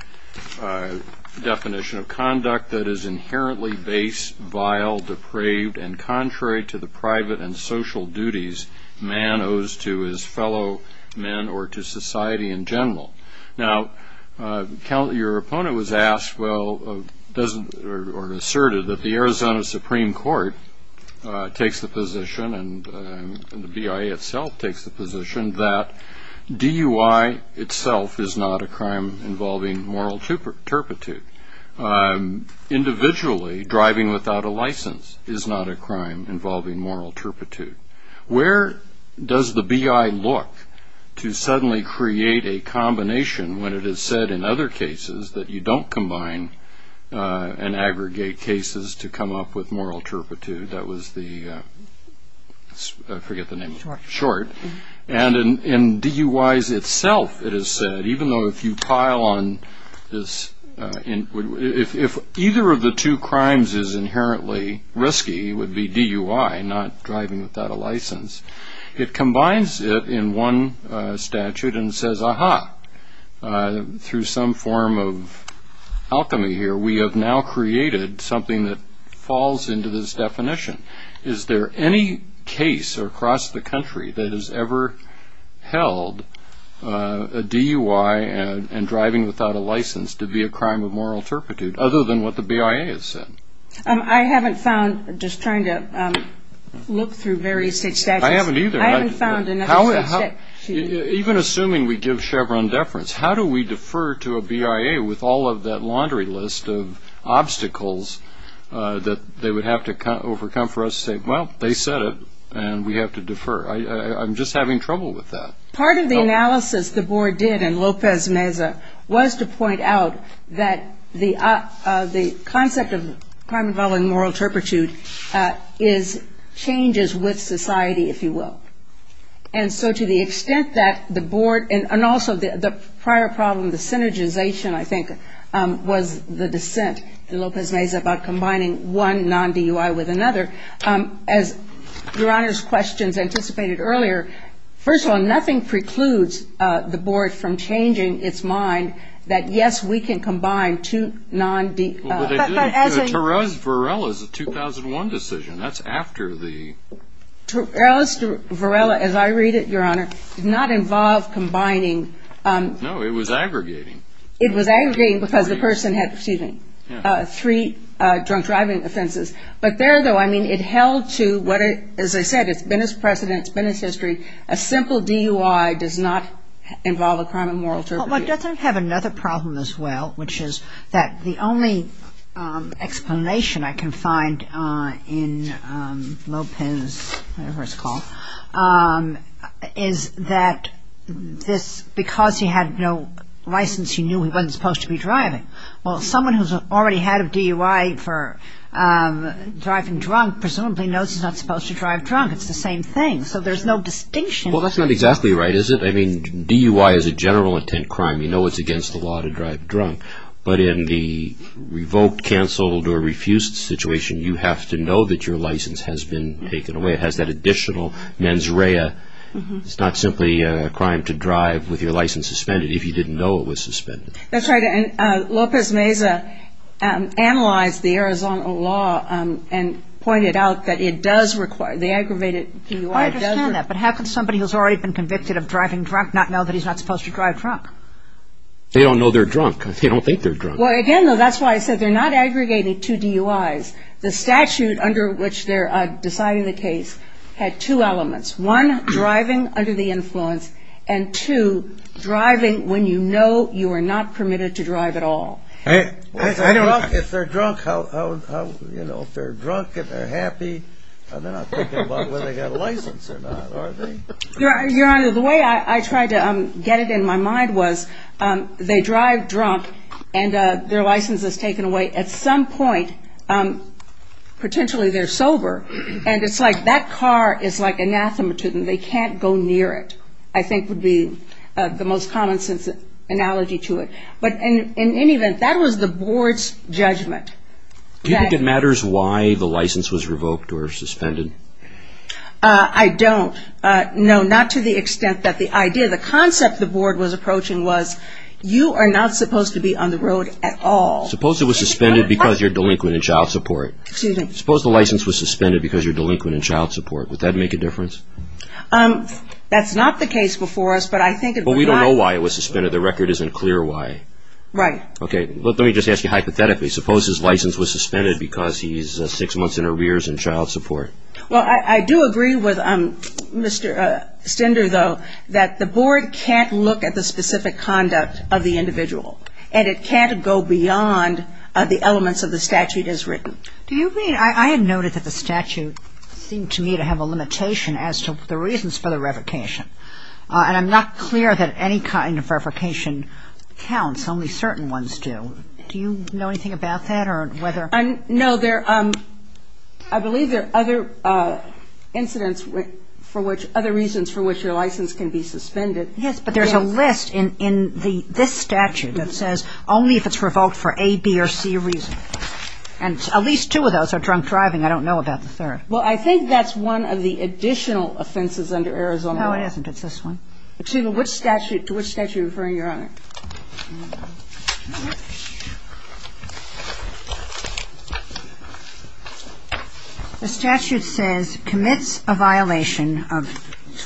definition of conduct that is inherently base, vile, depraved, and contrary to the private and social duties man owes to his fellow men or to society in general. Now, your opponent was asked or asserted that the Arizona Supreme Court takes the position, and the BIA itself takes the position that DUI itself is not a crime involving moral turpitude. Individually, driving without a license is not a crime involving moral turpitude. Where does the BIA look to suddenly create a combination when it has said in other cases that you don't combine and aggregate cases to come up with moral turpitude? That was the, I forget the name, short. And in DUIs itself, it has said, even though if you pile on this, if either of the two crimes is inherently risky, would be DUI, not driving without a license, it combines it in one statute and says, aha, through some form of alchemy here, we have now created something that falls into this definition. Is there any case across the country that has ever held a DUI and driving without a license to be a crime of moral turpitude, other than what the BIA has said? I haven't found, just trying to look through various statutes. I haven't either. I haven't found another statute. Even assuming we give Chevron deference, how do we defer to a BIA with all of that laundry list of obstacles that they would have to overcome for us to say, well, they said it, and we have to defer? I'm just having trouble with that. Part of the analysis the board did in Lopez Meza was to point out that the concept of crime involving moral turpitude is changes with society, if you will. And so to the extent that the board, and also the prior problem, the synergization, I think, was the dissent in Lopez Meza about combining one non-DUI with another. As Your Honor's questions anticipated earlier, first of all, nothing precludes the board from changing its mind that, yes, we can combine two non-DUIs. Well, they did. Torella's Varela is a 2001 decision. That's after the ‑‑ Torella's Varela, as I read it, Your Honor, did not involve combining. No, it was aggregating. It was aggregating because the person had, excuse me, three drunk driving offenses. But there, though, I mean, it held to, as I said, it's been its precedent, it's been its history. A simple DUI does not involve a crime of moral turpitude. Well, it does have another problem as well, which is that the only explanation I can find in Lopez, whatever it's called, is that this, because he had no license, he knew he wasn't supposed to be driving. Well, someone who's already had a DUI for driving drunk presumably knows he's not supposed to drive drunk. It's the same thing. So there's no distinction. Well, that's not exactly right, is it? Well, I mean, DUI is a general intent crime. You know it's against the law to drive drunk. But in the revoked, canceled, or refused situation, you have to know that your license has been taken away. It has that additional mens rea. It's not simply a crime to drive with your license suspended if you didn't know it was suspended. That's right. And Lopez Meza analyzed the Arizona law and pointed out that it does require, the aggravated DUI does require. But half of somebody who's already been convicted of driving drunk not know that he's not supposed to drive drunk. They don't know they're drunk. They don't think they're drunk. Well, again, though, that's why I said they're not aggregated to DUIs. The statute under which they're deciding the case had two elements, one, driving under the influence, and two, driving when you know you are not permitted to drive at all. If they're drunk, how, you know, if they're drunk and they're happy, they're not thinking about whether they have a license or not, are they? Your Honor, the way I tried to get it in my mind was they drive drunk and their license is taken away. At some point, potentially they're sober, and it's like that car is like anathema to them. They can't go near it, I think would be the most common sense analogy to it. But in any event, that was the board's judgment. Do you think it matters why the license was revoked or suspended? I don't. No, not to the extent that the idea, the concept the board was approaching was you are not supposed to be on the road at all. Suppose it was suspended because you're delinquent in child support. Excuse me. Suppose the license was suspended because you're delinquent in child support. Would that make a difference? That's not the case before us, but I think it would. I don't know why it was suspended. The record isn't clear why. Right. Okay. Let me just ask you hypothetically. Suppose his license was suspended because he's six months in arrears in child support. Well, I do agree with Mr. Sender, though, that the board can't look at the specific conduct of the individual. And it can't go beyond the elements of the statute as written. Do you mean, I have noted that the statute seemed to me to have a limitation as to the reasons for the revocation. And I'm not clear that any kind of revocation counts. Only certain ones do. Do you know anything about that or whether? No, I believe there are other incidents for which, other reasons for which your license can be suspended. Yes, but there's a list in this statute that says only if it's revoked for A, B, or C reasons. And at least two of those are drunk driving. I don't know about the third. Well, I think that's one of the additional offenses under Arizona law. No, it isn't. It's this one. Excuse me, which statute, to which statute are you referring, Your Honor? The statute says, commits a violation of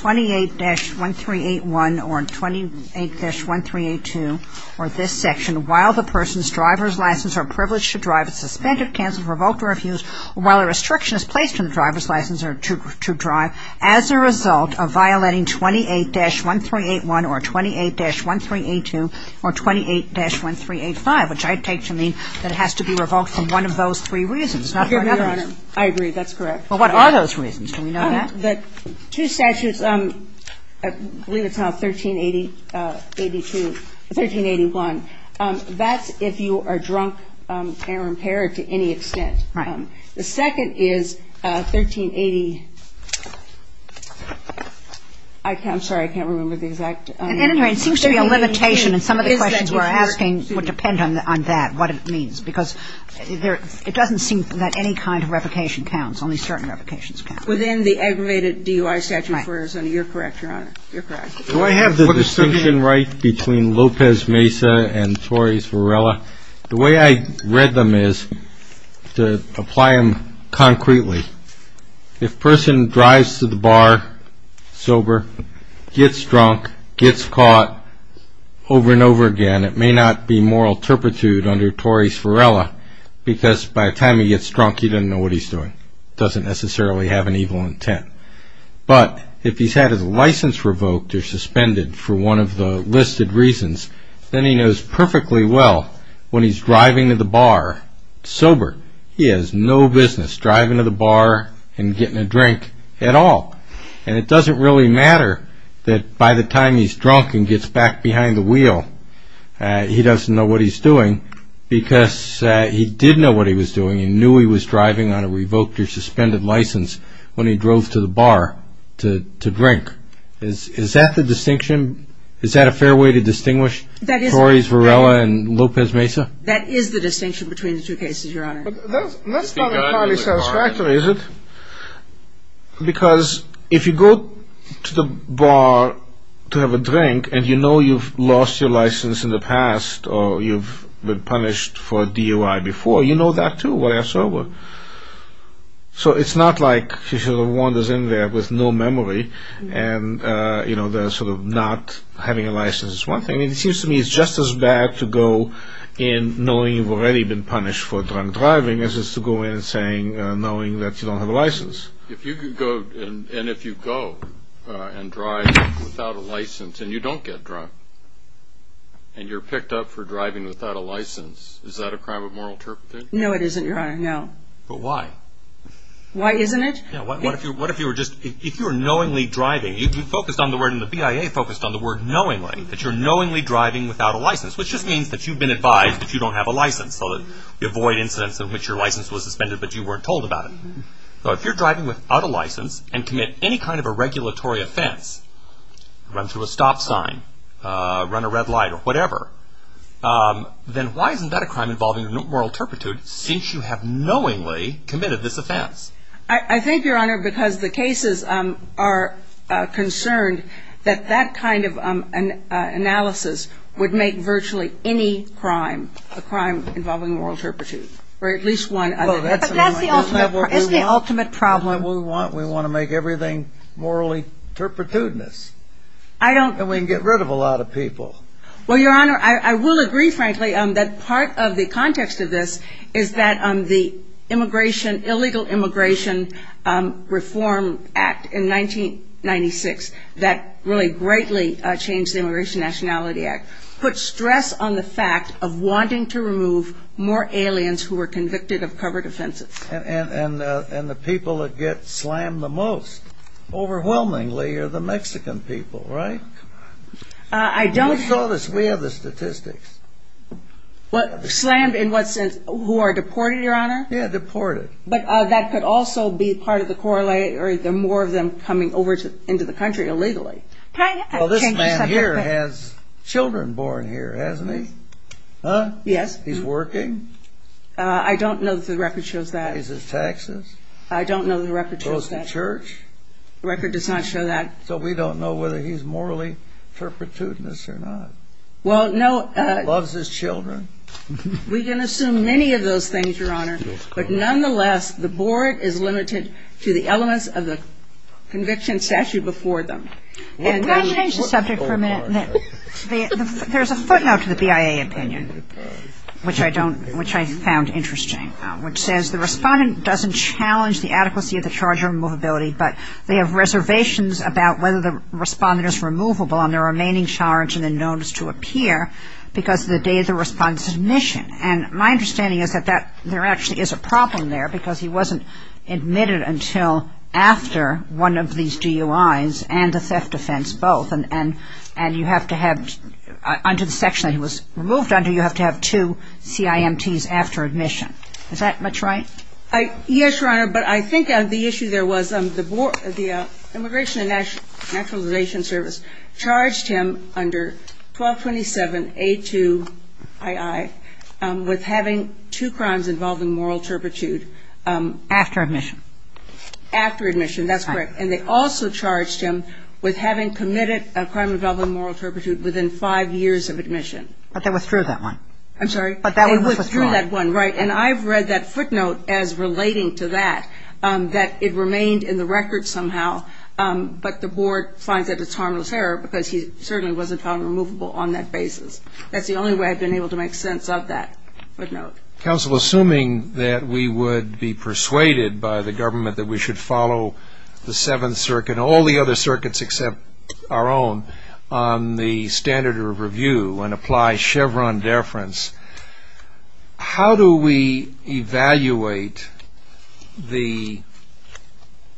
28-1381 or 28-1382 or this section, while the person's driver's license or privilege to drive is suspended, canceled, revoked, or refused, while a restriction is placed on the driver's license or privilege to drive, as a result of violating 28-1381 or 28-1382 or 28-1385, which I take to mean that it has to be revoked for one of those three reasons, not for another. Okay, Your Honor, I agree. That's correct. Well, what are those reasons? Two statutes, I believe it's called 1382, 1381. That's if you are drunk, camera impaired to any extent. Right. The second is 1380, I'm sorry, I can't remember the exact. It seems to be a limitation, and some of the questions we're asking would depend on that, what it means, because it doesn't seem that any kind of revocation counts, only certain revocations count. Within the aggravated DUI statute, Your Honor, you're correct. Do I have the distinction right between Lopez Mesa and Torres Varela? The way I read them is to apply them concretely. If a person drives to the bar sober, gets drunk, gets caught over and over again, it may not be moral turpitude under Torres Varela, because by the time he gets drunk, he doesn't know what he's doing. He doesn't necessarily have an evil intent. But if he's had his license revoked or suspended for one of the listed reasons, then he knows perfectly well when he's driving to the bar sober, he has no business driving to the bar and getting a drink at all. And it doesn't really matter that by the time he's drunk and gets back behind the wheel, he doesn't know what he's doing, because he did know what he was doing. He knew he was driving on a revoked or suspended license when he drove to the bar to drink. Is that the distinction? Is that a fair way to distinguish Torres Varela and Lopez Mesa? That is the distinction between the two cases, Your Honor. That's probably satisfactory, is it? Because if you go to the bar to have a drink and you know you've lost your license in the past or you've been punished for DUI before, you know that too when you're sober. So it's not like he wanders in there with no memory and not having a license. I mean, it seems to me it's just as bad to go in knowing you've already been punished for drunk driving as it is to go in knowing that you don't have a license. And if you go and drive without a license and you don't get drunk, and you're picked up for driving without a license, is that a crime of moral turpitude? No, it isn't, Your Honor, no. But why? Why isn't it? What if you were just, if you were knowingly driving, if you focused on the word, and the BIA focused on the word knowingly, that you're knowingly driving without a license, which just means that you've been advised that you don't have a license. You avoid incidents in which your license was suspended but you weren't told about it. So if you're driving without a license and commit any kind of a regulatory offense, run to a stop sign, run a red light or whatever, then why isn't that a crime involving moral turpitude since you have knowingly committed this offense? I think, Your Honor, because the cases are concerned that that kind of analysis would make virtually any crime, a crime involving moral turpitude, or at least one other. Well, that's the ultimate problem. That's what we want. We want to make everything morally turpitudinous. I don't. And we can get rid of a lot of people. Well, Your Honor, I will agree, frankly, that part of the context of this is that the immigration, Illegal Immigration Reform Act in 1996, that really greatly changed the Immigration Nationality Act, put stress on the fact of wanting to remove more aliens who were convicted of covert offenses. And the people that get slammed the most, overwhelmingly, are the Mexican people, right? I don't. Show us. We have the statistics. Slammed in what sense? Who are deported, Your Honor? Yeah, deported. But that could also be part of the corollary of more of them coming over into the country illegally. Well, this man here has children born here, hasn't he? Huh? Yes. He's working? I don't know that the record shows that. Is this Texas? I don't know that the record shows that. Goes to church? The record does not show that. So we don't know whether he's morally turpitudinous or not. Well, no. Loves his children? We can assume many of those things, Your Honor. But nonetheless, the board is limited to the elements of the conviction statute before them. Let's change the subject for a minute. There's a footnote to the BIA opinion, which I found interesting, which says, the respondent doesn't challenge the adequacy of the charge of removability, but they have reservations about whether the respondent is removable on their remaining charge And my understanding is that there actually is a problem there, because he wasn't admitted until after one of these DUIs and the theft offense both. And you have to have, under the section he was removed under, you have to have two CIMTs after admission. Is that much right? Yes, Your Honor. But I think the issue there was the Immigration and Naturalization Service charged him under 1227A2II with having two crimes involving moral turpitude. After admission. After admission, that's correct. And they also charged him with having committed a crime involving moral turpitude within five years of admission. But they withdrew that one. I'm sorry? But that one was withdrawn. They withdrew that one, right. And I've read that footnote as relating to that, that it remained in the record somehow, but the board finds that it's harmless error because he certainly wasn't found removable on that basis. That's the only way I've been able to make sense of that footnote. Counsel, assuming that we would be persuaded by the government that we should follow the Seventh Circuit, and all the other circuits except our own, on the standard of review and apply Chevron deference, how do we evaluate the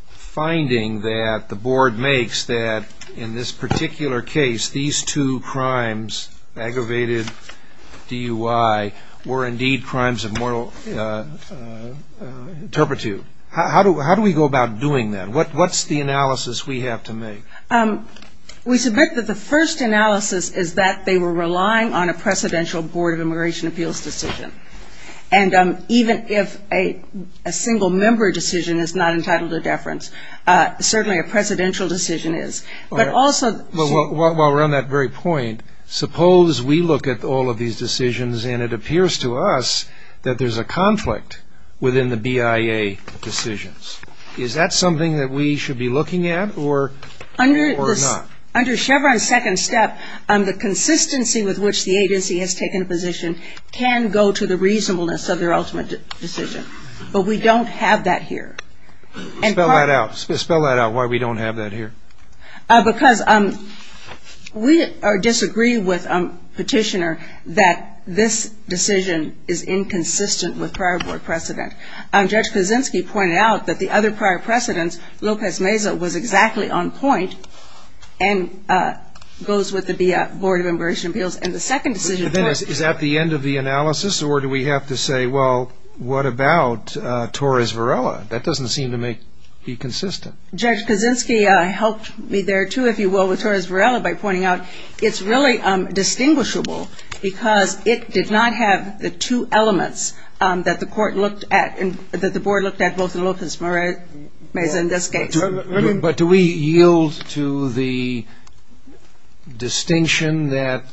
finding that the board makes that in this particular case, these two crimes, aggravated DUI, were indeed crimes of moral turpitude? How do we go about doing that? What's the analysis we have to make? We submit that the first analysis is that they were relying on a precedential Board of Immigration Appeals decision. And even if a single-member decision is not entitled to deference, certainly a precedential decision is. While we're on that very point, suppose we look at all of these decisions and it appears to us that there's a conflict within the BIA decisions. Is that something that we should be looking at or not? Under Chevron's second step, the consistency with which the agency has taken positions can go to the reasonableness of their ultimate decision. But we don't have that here. Spell that out. Spell that out, why we don't have that here. Because we disagree with Petitioner that this decision is inconsistent with prior Board precedent. Judge Kaczynski pointed out that the other prior precedent, Lopez-Meza, was exactly on point and goes with the BIA Board of Immigration Appeals. Is that the end of the analysis or do we have to say, well, what about Torres-Varela? That doesn't seem to be consistent. Judge Kaczynski helped me there, too, if you will, with Torres-Varela by pointing out It's really distinguishable because it did not have the two elements that the Board looked at both in Lopez-Meza and this case. But do we yield to the distinction that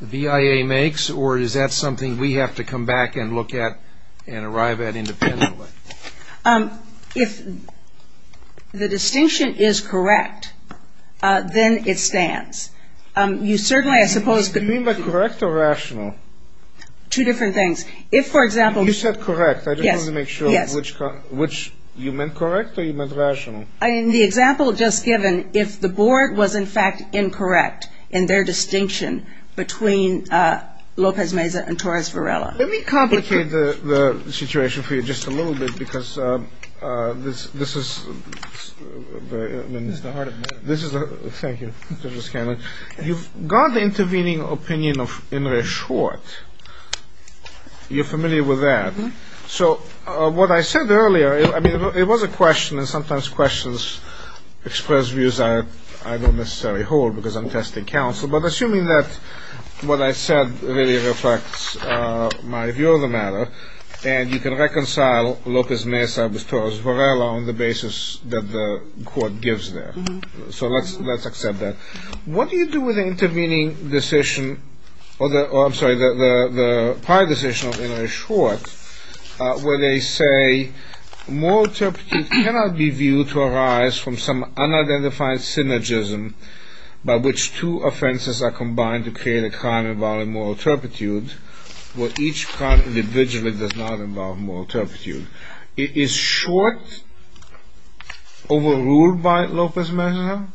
the BIA makes or is that something we have to come back and look at and arrive at independently? If the distinction is correct, then it stands. You certainly are supposed to Do you mean by correct or rational? Two different things. If, for example You said correct. I just wanted to make sure which you meant correct or you meant rational. In the example just given, if the Board was in fact incorrect in their distinction between Lopez-Meza and Torres-Varela. Let me complicate the situation for you just a little bit because this is Thank you, Ms. Cannon. You've got intervening opinion of Imre Schwartz. You're familiar with that. So what I said earlier, I mean, it was a question and sometimes questions express views that I don't necessarily hold because I'm testing counsel. But assuming that what I said really reflects my view of the matter and you can reconcile Lopez-Meza with Torres-Varela on the basis that the court gives them. So let's accept that. What do you do with an intervening decision? I'm sorry, the prior decision of Imre Schwartz where they say moral turpitude cannot be viewed to arise from some unidentified synergism by which two offenses are combined to create a crime involving moral turpitude where each crime individually does not involve moral turpitude. Is Schwartz overruled by Lopez-Meza?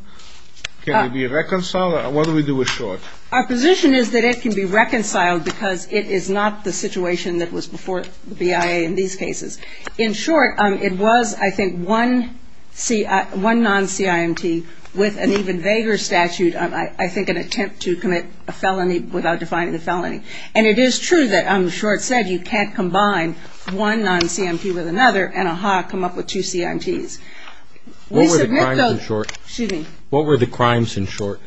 Can it be reconciled? What do we do with Schwartz? Our position is that it can be reconciled because it is not the situation that was before BIA in these cases. In short, it was, I think, one non-CIMT with an even vaguer statute on, I think, an attempt to commit a felony without defining the felony. And it is true that on the Schwartz side you can't combine one non-CIMT with another and come up with two CIMTs. What were the crimes in short?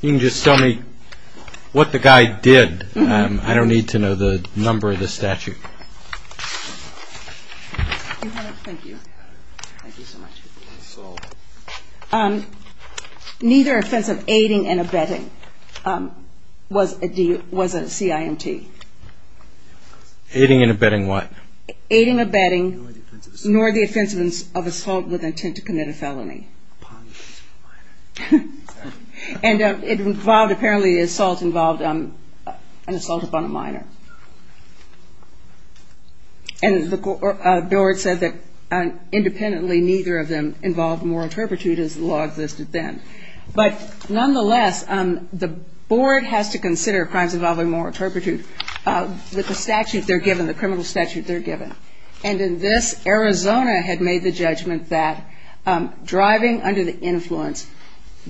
You can just tell me what the guy did. I don't need to know the number of the statute. Neither assent of aiding and abetting was a CIMT. Aiding and abetting what? Aiding and abetting nor the assent of assault with intent to commit a felony. And apparently the assault involved an assault upon a minor. And the board said that independently neither of them involved moral turpitude as the law of this defense. But nonetheless, the board has to consider crimes involving moral turpitude with the statute they're given, the criminal statute they're given. And in this, Arizona had made the judgment that driving under the influence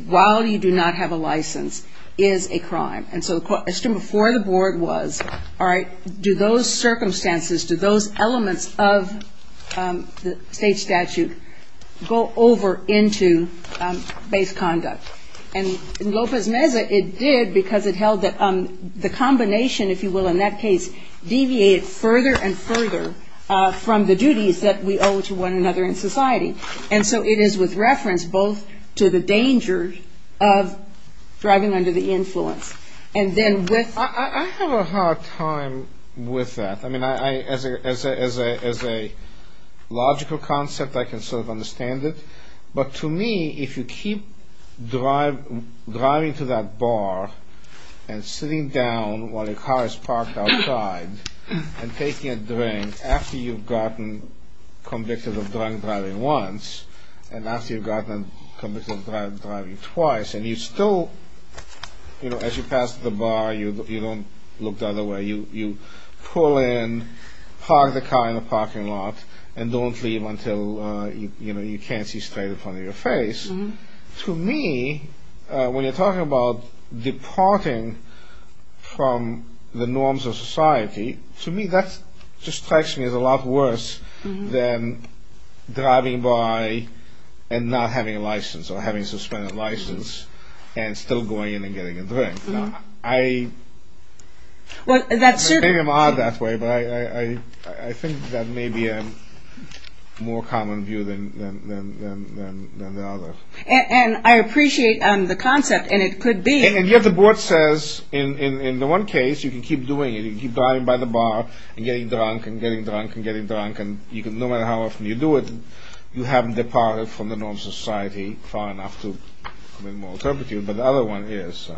while you do not have a license is a crime. And so the question before the board was, all right, do those circumstances, do those elements of the state statute go over into base conduct? And in Lopez-Meza it did because it held that the combination, if you will, in that case, deviated further and further from the duties that we owe to one another in society. And so it is with reference both to the dangers of driving under the influence and then with... I have a hard time with that. I mean, as a logical concept I can sort of understand it. But to me, if you keep driving to that bar and sitting down while a car is parked outside and taking a drink after you've gotten convicted of drunk driving once and after you've gotten convicted of drunk driving twice and you still, you know, as you pass the bar you don't look the other way, you pull in, park the car in the parking lot and don't leave until, you know, you can't see straight in front of your face, to me, when you're talking about departing from the norms of society, to me that just strikes me as a lot worse than driving by and not having a license or having a suspended license and still going in and getting a drink. I... Well, that's certainly... I don't think I'm odd that way, but I think that may be a more common view than the others. And I appreciate the concept and it could be... And yet the board says in one case you can keep doing it, you can keep driving by the bar and getting drunk and getting drunk and getting drunk and no matter how often you do it, you haven't departed from the norms of society far enough to... But the other one is...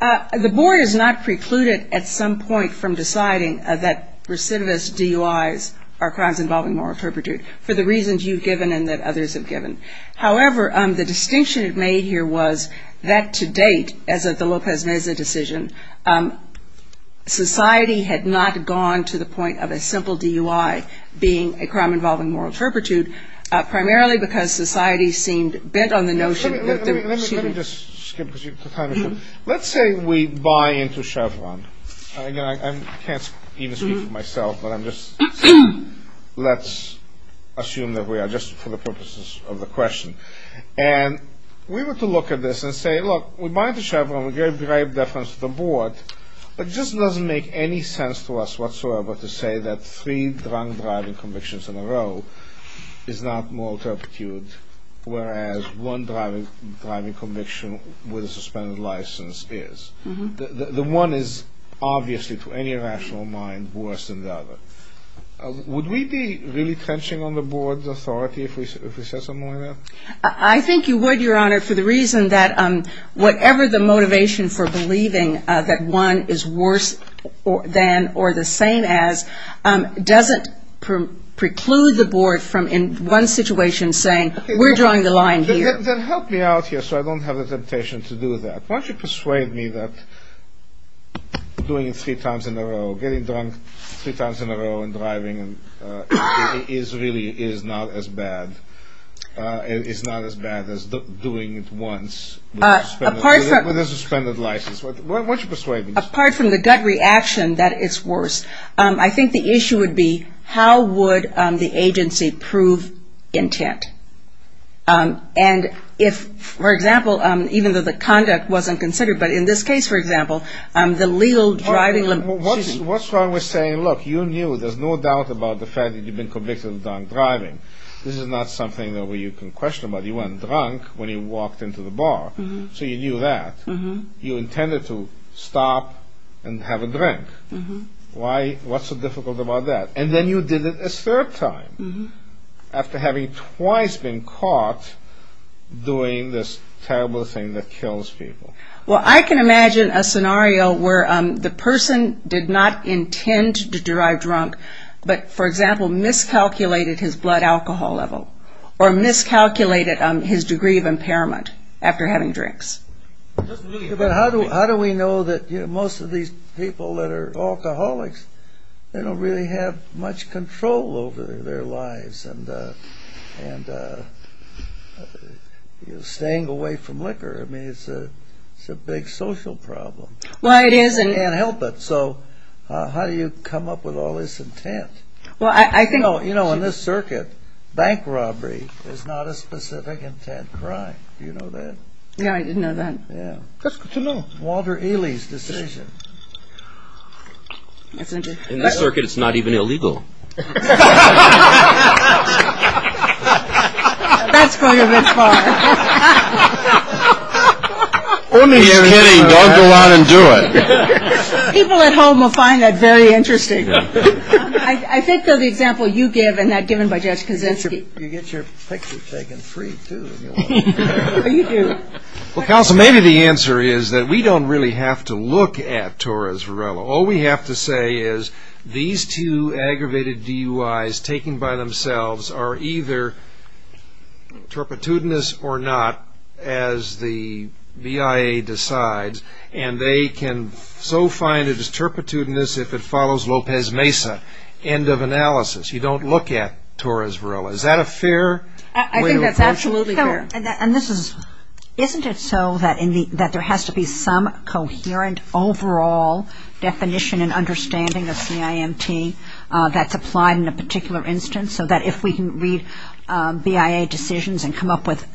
The board has not precluded at some point from deciding that recidivist DUIs are crimes involving moral turpitude for the reasons you've given and that others have given. However, the distinction you've made here was that to date, as of the Lopez Meza decision, society had not gone to the point of a simple DUI being a crime involving moral turpitude, primarily because society seemed bent on the notion that there... Let me just skip a few... Let's say we buy into Chevron. Again, I can't even speak for myself, but I'm just... Let's assume that we are, just for the purposes of the question. And we were to look at this and say, look, we buy into Chevron, we gave grave deference to the board, but it just doesn't make any sense to us whatsoever to say that three drunk driving convictions in a row is not moral turpitude, whereas one driving conviction with a suspended license is. The one is obviously, to any rational mind, worse than the other. Would we be really tensioning on the board's authority if we said something like that? I think you would, Your Honor, for the reason that whatever the motivation for believing that one is worse than or the same as doesn't preclude the board from, in one situation, saying, we're drawing the line here. Help me out here so I don't have a temptation to do that. Why don't you persuade me that doing it three times in a row, getting drunk three times in a row, and driving is really not as bad as doing it once with a suspended license. Why don't you persuade me? Apart from the gut reaction that it's worse, I think the issue would be, how would the agency prove intent? And if, for example, even though the conduct wasn't considered, but in this case, for example, the legal driving limitations. What's wrong with saying, look, you knew, there's no doubt about the fact that you've been convicted of drunk driving. This is not something that you can question, but you went drunk when you walked into the bar, so you knew that. You intended to stop and have a drink. What's so difficult about that? And then you did it a third time after having twice been caught doing this terrible thing that kills people. Well, I can imagine a scenario where the person did not intend to drive drunk, but, for example, miscalculated his blood alcohol level or miscalculated his degree of impairment after having drinks. But how do we know that most of these people that are alcoholics, they don't really have much control over their lives, and staying away from liquor, I mean, it's a big social problem. Well, it is. But they can't help it. So how do you come up with all this intent? You know, in this circuit, bank robbery is not a specific intent crime. Do you know that? Yeah, I didn't know that. Yeah. Walter Ely's decision. In this circuit, it's not even illegal. That's probably a good point. Or maybe everybody wants to go out and do it. People at home will find that very interesting. I think of the example you gave and that given by Judge Kuzinski. You get your picture taken free, too. You do. Well, counsel, maybe the answer is that we don't really have to look at Torres Varela. All we have to say is these two aggravated DUIs taken by themselves are either turpitudinous or not, as the BIA decides, and they can so find it as turpitudinous if it follows Lopez Mesa. End of analysis. You don't look at Torres Varela. Is that a fair way to approach it? I think that's absolutely fair. Isn't it so that there has to be some coherent overall definition and understanding of CIMT that's applied in a particular instance so that if we can read BIA decisions and come up with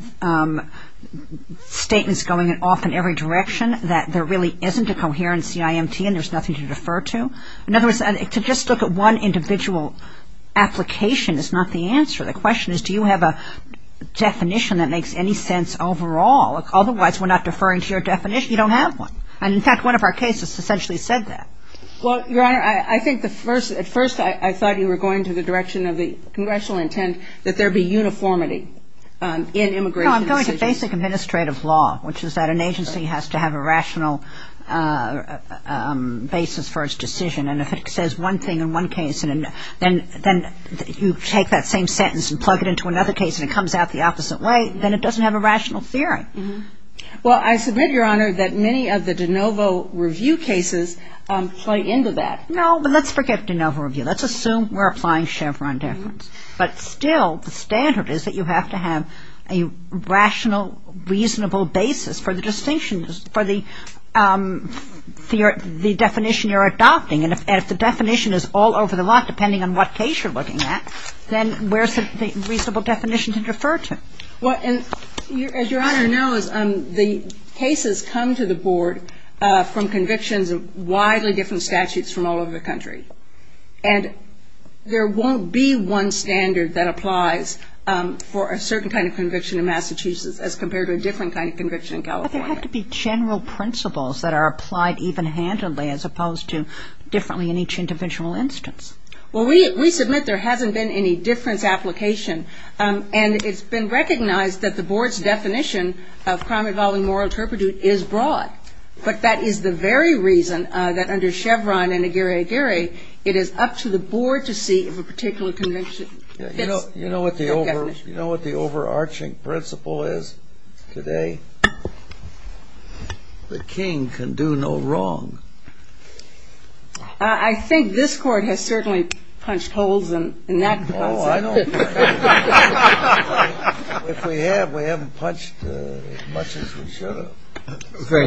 statements going off in every direction, that there really isn't a coherent CIMT and there's nothing to defer to? In other words, to just look at one individual application is not the answer. The question is, do you have a definition that makes any sense overall? Otherwise, we're not deferring to your definition. You don't have one. And, in fact, one of our cases essentially said that. Well, Your Honor, I think at first I thought you were going to the direction of the congressional intent that there be uniformity in immigration decisions. No, I'm going to basic administrative law, which is that an agency has to have a rational basis for its decision. And if it says one thing in one case and then you take that same sentence and plug it into another case and it comes out the opposite way, then it doesn't have a rational theory. Well, I submit, Your Honor, that many of the de novo review cases play into that. No, but let's forget de novo review. Let's assume we're applying Chevron difference. But still, the standard is that you have to have a rational, reasonable basis for the distinction, for the definition you're adopting. And if the definition is all over the lot, depending on what case you're looking at, then where is the reasonable definition to refer to? Well, as Your Honor knows, the cases come to the board from convictions of widely different statutes from all over the country. And there won't be one standard that applies for a certain kind of conviction in Massachusetts as compared to a different kind of conviction in California. But there have to be general principles that are applied even-handedly as opposed to differently in each individual instance. Well, we submit there hasn't been any difference application. And it's been recognized that the board's definition of crime involving moral interpretation is broad. But that is the very reason that under Chevron and Aguirre-Dure, it is up to the board to see if a particular conviction fits. You know what the overarching principle is today? The king can do no wrong. I think this court has certainly punched holes in that. If we have, we haven't punched as much as we should have.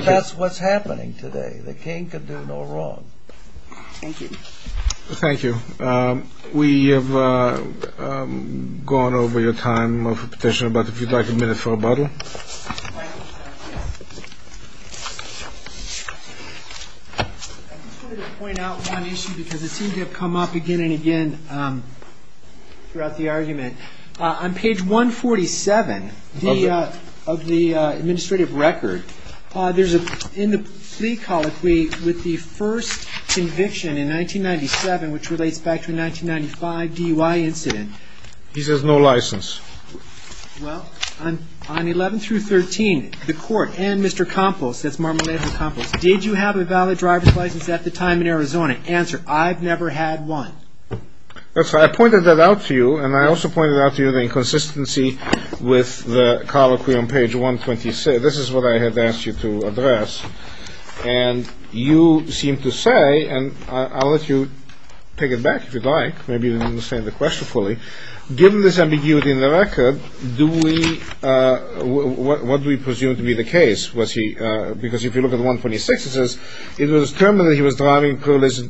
That's what's happening today. The king can do no wrong. Thank you. Thank you. We have gone over the time of the petition. But if you'd like a minute for rebuttal. I just wanted to point out one issue because it seems to have come up again and again throughout the argument. On page 147 of the administrative record, in the city college, with the first conviction in 1997, which relates back to the 1995 DUI incident. He says no license. Well, on 11 through 13, the court and Mr. Campos, that's Marmolejo Campos, did you have a valid driver's license at the time in Arizona? Answer, I've never had one. That's why I pointed that out to you, and I also pointed out to you the inconsistency with the colloquy on page 126. This is what I had asked you to address. And you seem to say, and I'll let you take it back if you'd like. Maybe you don't understand the question fully. Given this ambiguity in the record, what do we presume to be the case? Because if you look at 126, it says, it was determined that he was driving privileges...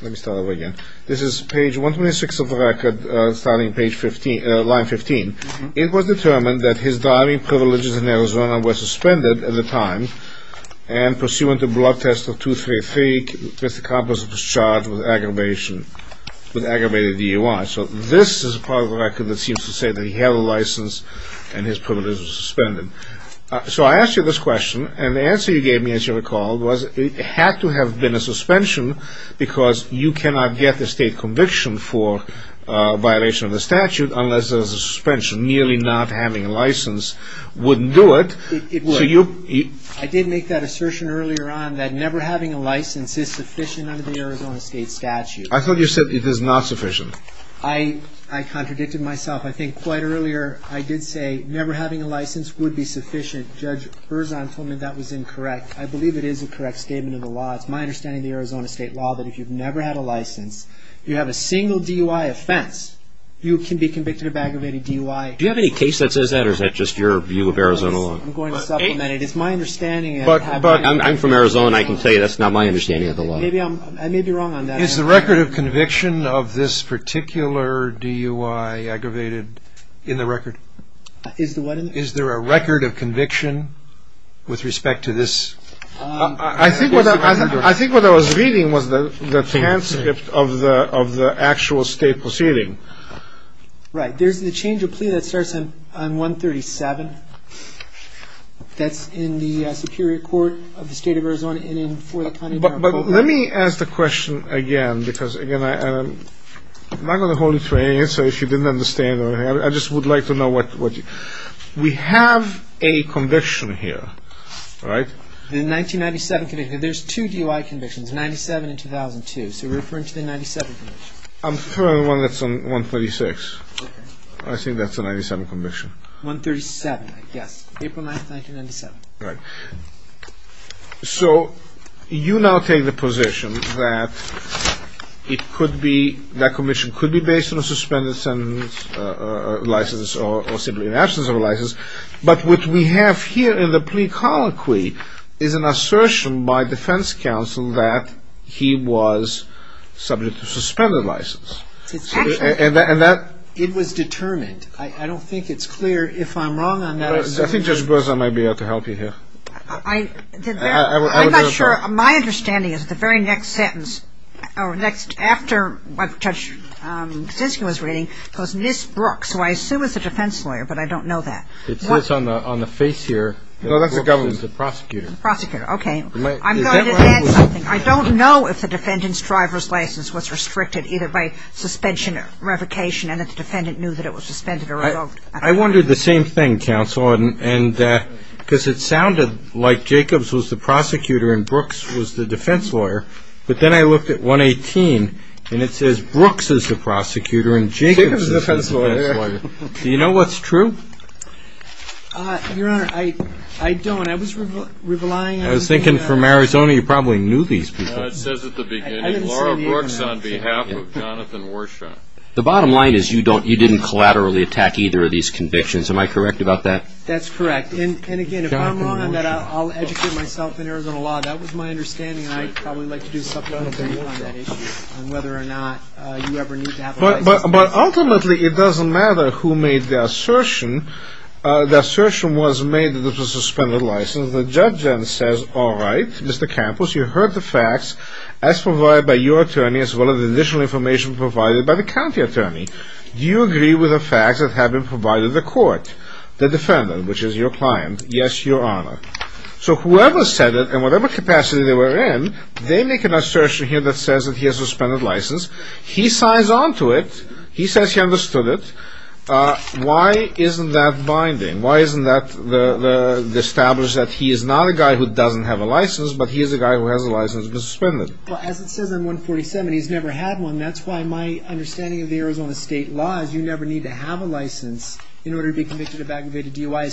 Let me start over again. This is page 126 of the record, starting at line 15. It was determined that his driving privileges in Arizona were suspended at the time, and pursuant to blood tests of 233, Mr. Campos was charged with aggravated DUI. So this is part of the record that seems to say that he had a license and his privileges were suspended. So I asked you this question, and the answer you gave me, as you recall, was it had to have been a suspension because you cannot get the state conviction for a violation of the statute unless there was a suspension. Merely not having a license wouldn't do it. I did make that assertion earlier on that never having a license is sufficient under the Arizona state statute. I thought you said it is not sufficient. I contradicted myself. I think quite earlier I did say never having a license would be sufficient. Judge Berzahn told me that was incorrect. I believe it is a correct statement of the law. It's my understanding of the Arizona state law that if you've never had a license, you have a single DUI offense, you can be convicted of aggravated DUI. Do you have any case that says that, or is that just your view of Arizona law? I'm going to supplement it. It's my understanding. But I'm from Arizona. I can tell you that's not my understanding of the law. I may be wrong on that. Is the record of conviction of this particular DUI aggravated in the record? Is there a record of conviction with respect to this? I think what I was reading was the transcript of the actual state proceeding. Right. There's the change of plea that starts on 137. That's in the Superior Court of the state of Arizona and in Fort LaTonia. But let me ask the question again because, again, I'm not going to hold it to any answer if you didn't understand. I just would like to know what you – we have a conviction here, right? The 1997 conviction. There's two DUI convictions, 97 and 2002. So you're referring to the 97 conviction. I'm referring to the one that's on 136. I think that's the 97 conviction. 137, yes. April 9th, 1997. Right. So you now take the position that it could be – that conviction could be based on a suspended sentence license or simply an absence of a license. But what we have here in the plea colloquy is an assertion by defense counsel that he was subject to suspended license. And that – It was determined. I don't think it's clear. If I'm wrong on that – I think Judge Berza might be able to help you here. I'm not sure. My understanding is the very next sentence, or next after what Judge Fiske was reading, was Ms. Brooks, who I assume is a defense lawyer, but I don't know that. It's on the face here. No, that's the government. The prosecutor. The prosecutor. Okay. I'm going to add something. I don't know if the defendant's driver's license was restricted either by suspension or revocation and if the defendant knew that it was suspended or revoked. I wondered the same thing, counsel, because it sounded like Jacobs was the prosecutor and Brooks was the defense lawyer. But then I looked at 118 and it says Brooks is the prosecutor and Jacobs is the defense lawyer. Do you know what's true? Your Honor, I don't. I was relying on – I was thinking from Arizona you probably knew these people. It says at the beginning, Laura Brooks on behalf of Jonathan Warshaw. The bottom line is you didn't collaterally attack either of these convictions. Am I correct about that? That's correct. And again, if I'm wrong on that, I'll educate myself in Arizona law. That was my understanding. I'd probably like to do something on that issue on whether or not you ever need to have a lawyer. But ultimately it doesn't matter who made the assertion. The assertion was made that it was a suspended license. All right, Mr. Campos, you heard the facts as provided by your attorney as well as additional information provided by the county attorney. Do you agree with the facts that have been provided in the court? The defendant, which is your client, yes, Your Honor. So whoever said it and whatever capacity they were in, they make an assertion here that says that he has a suspended license. He signs on to it. He says he understood it. Why isn't that binding? Why isn't that established that he is not a guy who doesn't have a license, but he is a guy who has a license that's suspended? Well, as it says on 147, he's never had one. That's why my understanding of the Arizona state law is you never need to have a license in order to be convicted of aggravated DUI.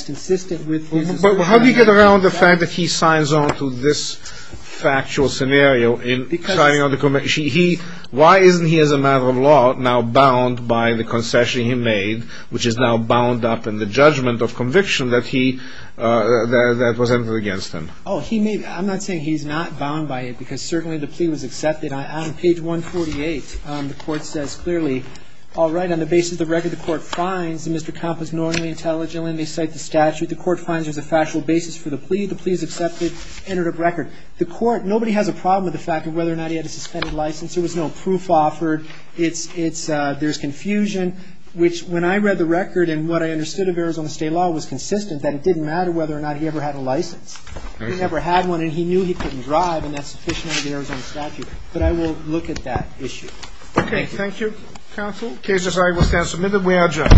But how do you get around the fact that he signs on to this factual scenario? Why isn't he, as a matter of law, now bound by the concession he made, which is now bound up in the judgment of conviction that was entered against him? I'm not saying he's not bound by it, because certainly the plea was accepted. On page 148, the court says clearly, all right, on the basis of the record the court finds Mr. Campos knowingly, intelligently, and may cite the statute the court finds as a factual basis for the plea, the plea is accepted, entered a record. The court, nobody has a problem with the fact of whether or not he had a suspended license. There was no proof offered. There's confusion, which when I read the record, and what I understood of Arizona state law was consistent, that it didn't matter whether or not he ever had a license. He never had one, and he knew he couldn't drive, and that's a suspicion of the Arizona statute. But I will look at that issue. Okay, thank you, counsel. The case is now submitted. We are adjourned.